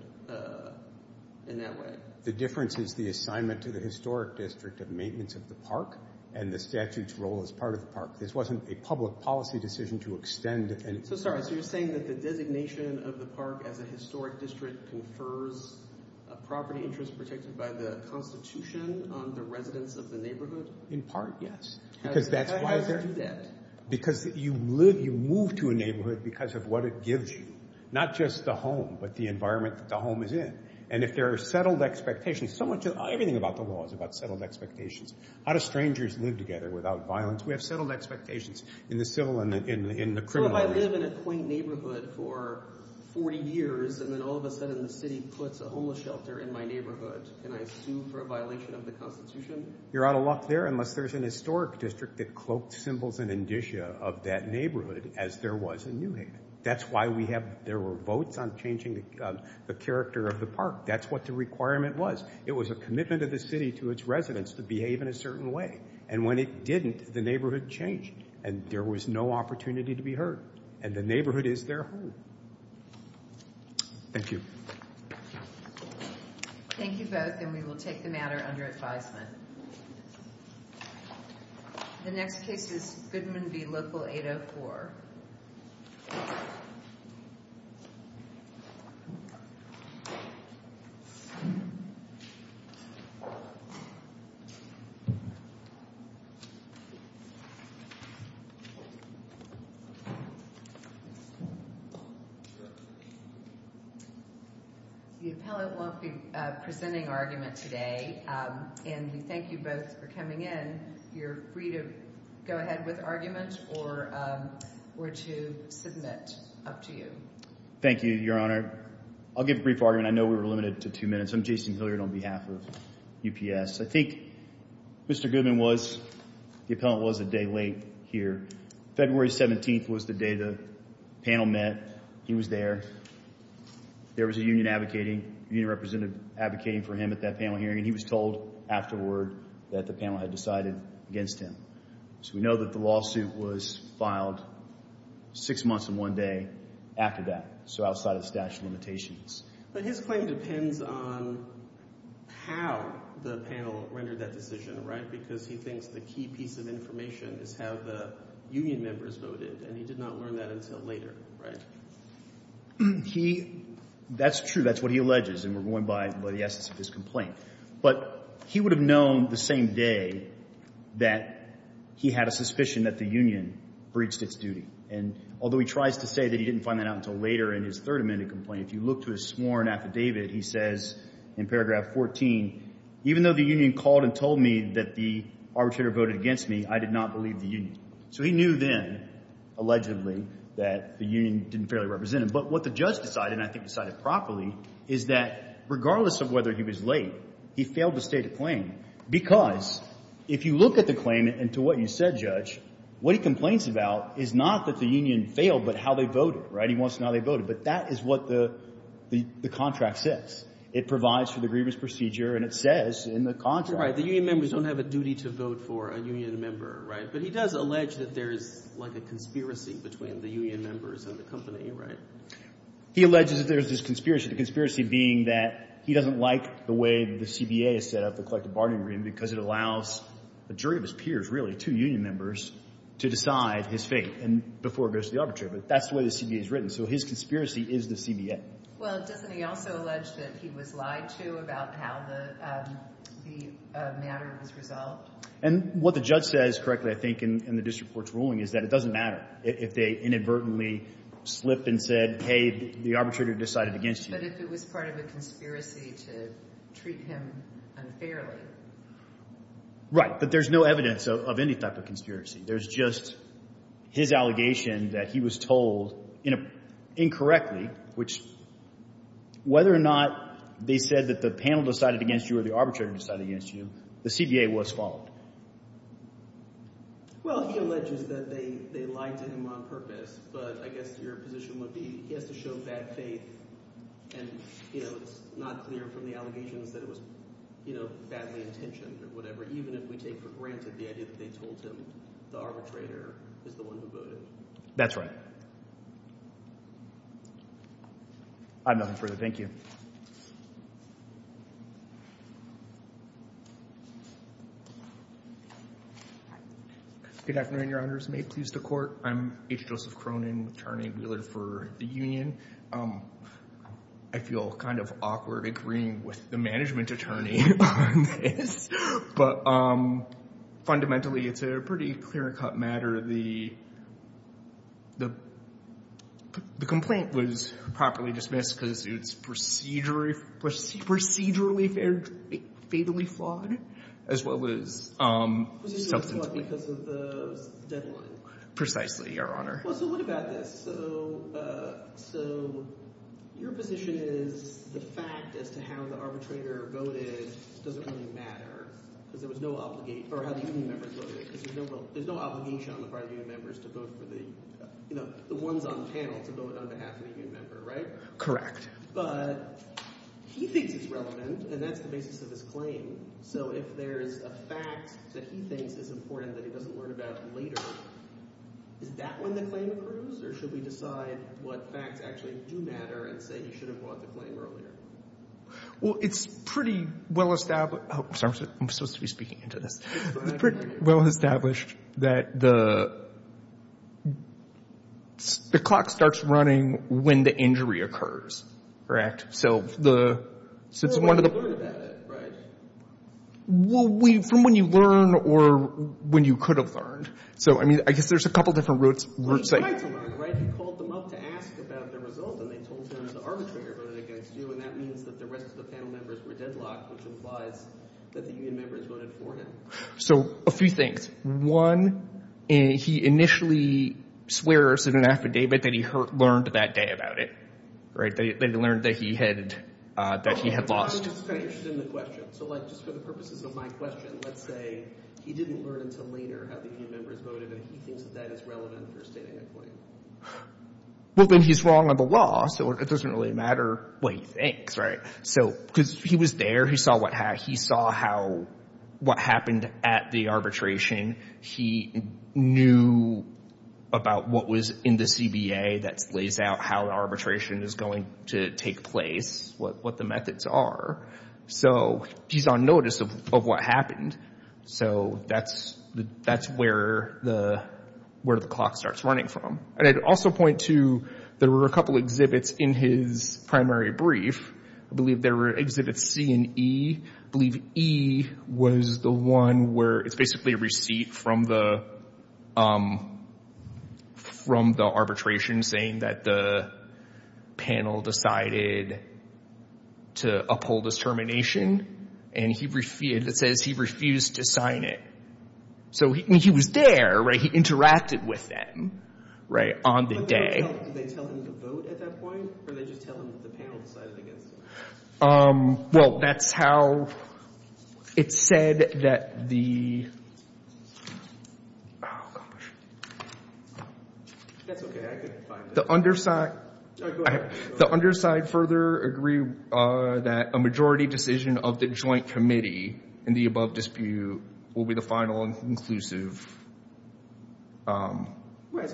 in that way. The difference is the assignment to the historic district of maintenance of the park and the statute's role as part of the park. This wasn't a public policy decision to extend So, sorry, so you're saying that the designation of the park as a historic district confers a property interest protected by the constitution on the residence of the neighborhood? In part, yes. Why is that? Because you move to a neighborhood because of what it gives you. Not just the home, but the environment that the home is in. And if there are settled expectations, so much of everything about the law is about settled expectations. How do strangers live together without violence? We have settled expectations in the civil and in the criminal. So if I live in a quaint neighborhood for 40 years and then all of a sudden the city puts a homeless shelter in my neighborhood, can I sue for a violation of the constitution? You're out of luck there unless there's an historic district that cloaked symbols and indicia of that neighborhood as there was in New Haven. That's why we have, there were votes on changing the character of the park. That's what the requirement was. It was a commitment of the city to its residents to behave in a certain way. And when it didn't, the neighborhood changed and there was no opportunity to be heard. And the neighborhood is their home. Thank you. Thank you, Patrick, and we will take the matter under advisement. The next case is Goodman v. Local 804. The appellant won't be presenting arguments today, and we thank you both for coming in. You're free to go ahead with arguments or to submit. Up to you. Thank you, Your Honor. I'll give a brief argument. I know we were limited to two minutes. I'm Jason Hilliard on behalf of UPS. I think Mr. Goodman was, the appellant was a day late here. February 17th was the day the panel met. He was there. There was a union advocating, a union representative advocating for him at that panel hearing, and he was told afterward that the panel had decided against him. So we know that the lawsuit was filed six months and one day after that, so outside of statute of limitations. But his claim depends on how the panel rendered that decision, right? Because he thinks the key piece of information is how the union members voted, and he did not learn that until later, right? He, that's true. That's what he alleges, and we're going by the essence of his complaint. But he would have known the same day that he had a suspicion that the union breached its duty. And although he tries to say that he didn't find that out until later in his third amendment complaint, you look to his sworn affidavit, he says in paragraph 14, even though the union called and told me that the arbitrator voted against me, I did not believe the union. So he knew then, allegedly, that the union didn't fairly represent him. But what the judge decided, and I think decided properly, is that regardless of whether he was late, he failed to state a claim because if you look at the claim and to what you said, the judge, what he complains about is not that the union failed, but how they voted. He wants to know how they voted. But that is what the contract says. It provides for the grievance procedure and it says in the contract. Right. The union members don't have a duty to vote for a union member, right? But he does allege that there's like a conspiracy between the union members and the company, right? He alleges that there's this conspiracy. The conspiracy being that he doesn't like the way the CBA has set up the collective bargaining room because it allows a jury of his peers, really, two union members, to decide his fate before it goes to the arbitrator. But that's the way the CBA is written. So his conspiracy is the CBA. Well, Stephanie also alleged that he was lied to about how the matter would result. And what the judge says correctly, I think, in the district court's ruling is that it doesn't matter if they inadvertently slipped and said, hey, the arbitrator decided against you. But if it was part of a conspiracy to treat him unfairly. Right. But there's no evidence of any type of conspiracy. There's just his allegation that he was told, you know, incorrectly, which, whether or not they said that the panel decided against you or the arbitrator decided against you, the CBA was followed. Well, he alleges that they lied to him on purpose. But I guess your position would be he has to show bad faith and, you know, not clear from the allegations that it was, you know, badly intentioned or whatever. Even if we take for granted the idea that they told him the arbitrator is the one who voted. That's right. I have nothing further. Thank you. Good afternoon, your honors. May it please the court. I'm H. Joseph Cronin, attorney related for the union. I feel kind of awkward agreeing with the management attorney on this. But fundamentally, it's a pretty clear-cut matter. The complaint was properly dismissed because it's procedurally fatally flawed as well as something... because of the... Precisely, your honor. Well, so look at this. So, so, your position is the fact as to how the arbitrator voted doesn't really matter because there was no obligation... or how the union members voted because there's no obligation on the party of union members to vote for the, you know, the ones on the panel to vote for those that happen to be a member, right? Correct. But he thinks he's relevant and that's the basis of his claim. So if there's a fact that he thinks is important that he doesn't learn about later, does that one then play a role or should we decide what fact actually do matter that he should have wanted to claim earlier? it's pretty well established... Oh, sorry, I'm supposed to be speaking into the... well established that the... the clock starts running when the injury occurs, correct? the... So it's one of the... Well, from when you learn or when you could have learned. So, I mean, I guess there's a couple different roots... So, a few things. One, he initially swears in an affidavit that he learned that day about it, right? That he learned that he had that he had lost. Well, when he's wrong on the law, so it doesn't really matter what he thinks, right? So, because he was there, he saw what... he saw how... what happened at the arbitration. He knew about what was in the CBA that lays out how the arbitration is going to take place, what the methods are. So, he's on notice of what happened. So, that's... that's where the... where the clock starts running from. I'd also point to there were a couple exhibits in his primary brief. I believe there were exhibits C and E. I believe E was the one where it's basically a receipt from the... from the arbitration saying that the panel decided to uphold the termination and he refused... he refused to sign it. So, he was there, he interacted with them on the day. Well, that's how it said that the... The underside... The underside further agreed that a majority decision of the joint committee in the above dispute will be the final and conclusive um... There's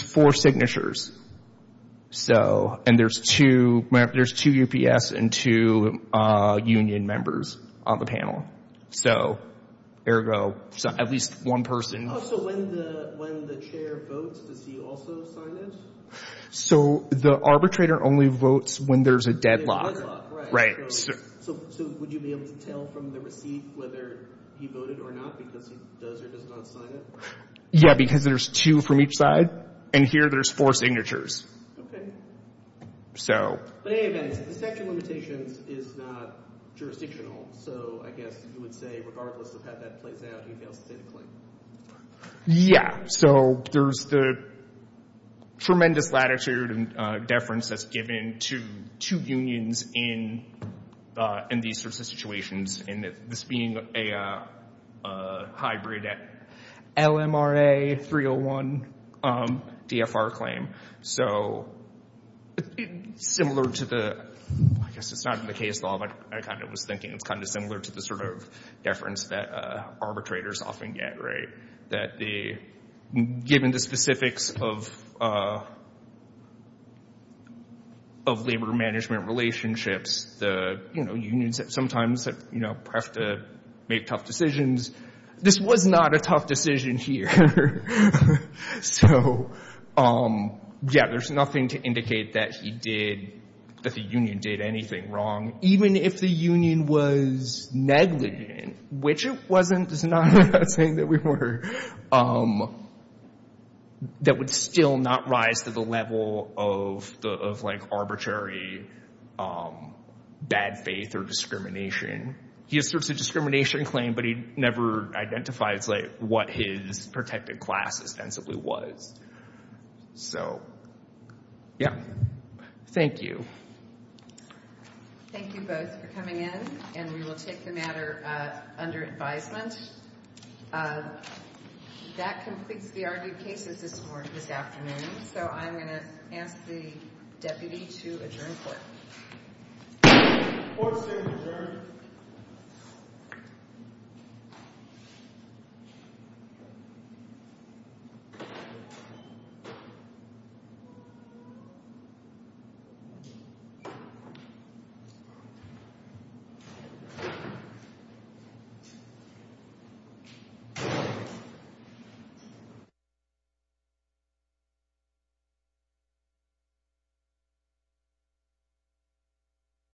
four signatures. So, and there's two... there's two UPS and two union members on the panel. So, ergo, at least one person... So, when the... when the chair votes, does he also sign this? So, the arbitrator only votes when there's a deadlock. Deadlock, right. Right. So, would you be able to tell from the receipt whether you voted or not because he does or does not sign it? Yeah, because there's two from each side and here there's four signatures. Okay. So... But, man, inspection limitations is not jurisdictional. So, I guess you would say regardless of how that plays out, you'd be able to take the claim. Yeah. So, there's the tremendous latitude and deference that's given to two unions in, er, in these sorts of situations and this being a, er, hybrid LMRA 301 um, DFR claim. So, similar to the... I guess it's not in the case law, but I kind of was thinking it's kind of similar to the sort of deference that arbitrators often get, right? That they, given the specifics of, of labor management relationships, you know, unions that sometimes, you know, have to make tough decisions. This was not a tough decision here. So, um, yeah, there's nothing to indicate that he did, that the union did anything wrong. Even if the union was negligent, which if wasn't, is not a thing that we were, um, that would still not rise to the level of, of like arbitrary, um, bad faith or discrimination. He asserts a discrimination claim, but he never identifies like what his protected class ostensibly was. So, yeah. Thank you. Thank you both for coming in and we will take the matter, uh, under advisement. Uh, that completes the argument cases this morning, this afternoon. So, I'm going to ask the deputy to adjourn the court. Court is adjourned. Thank you.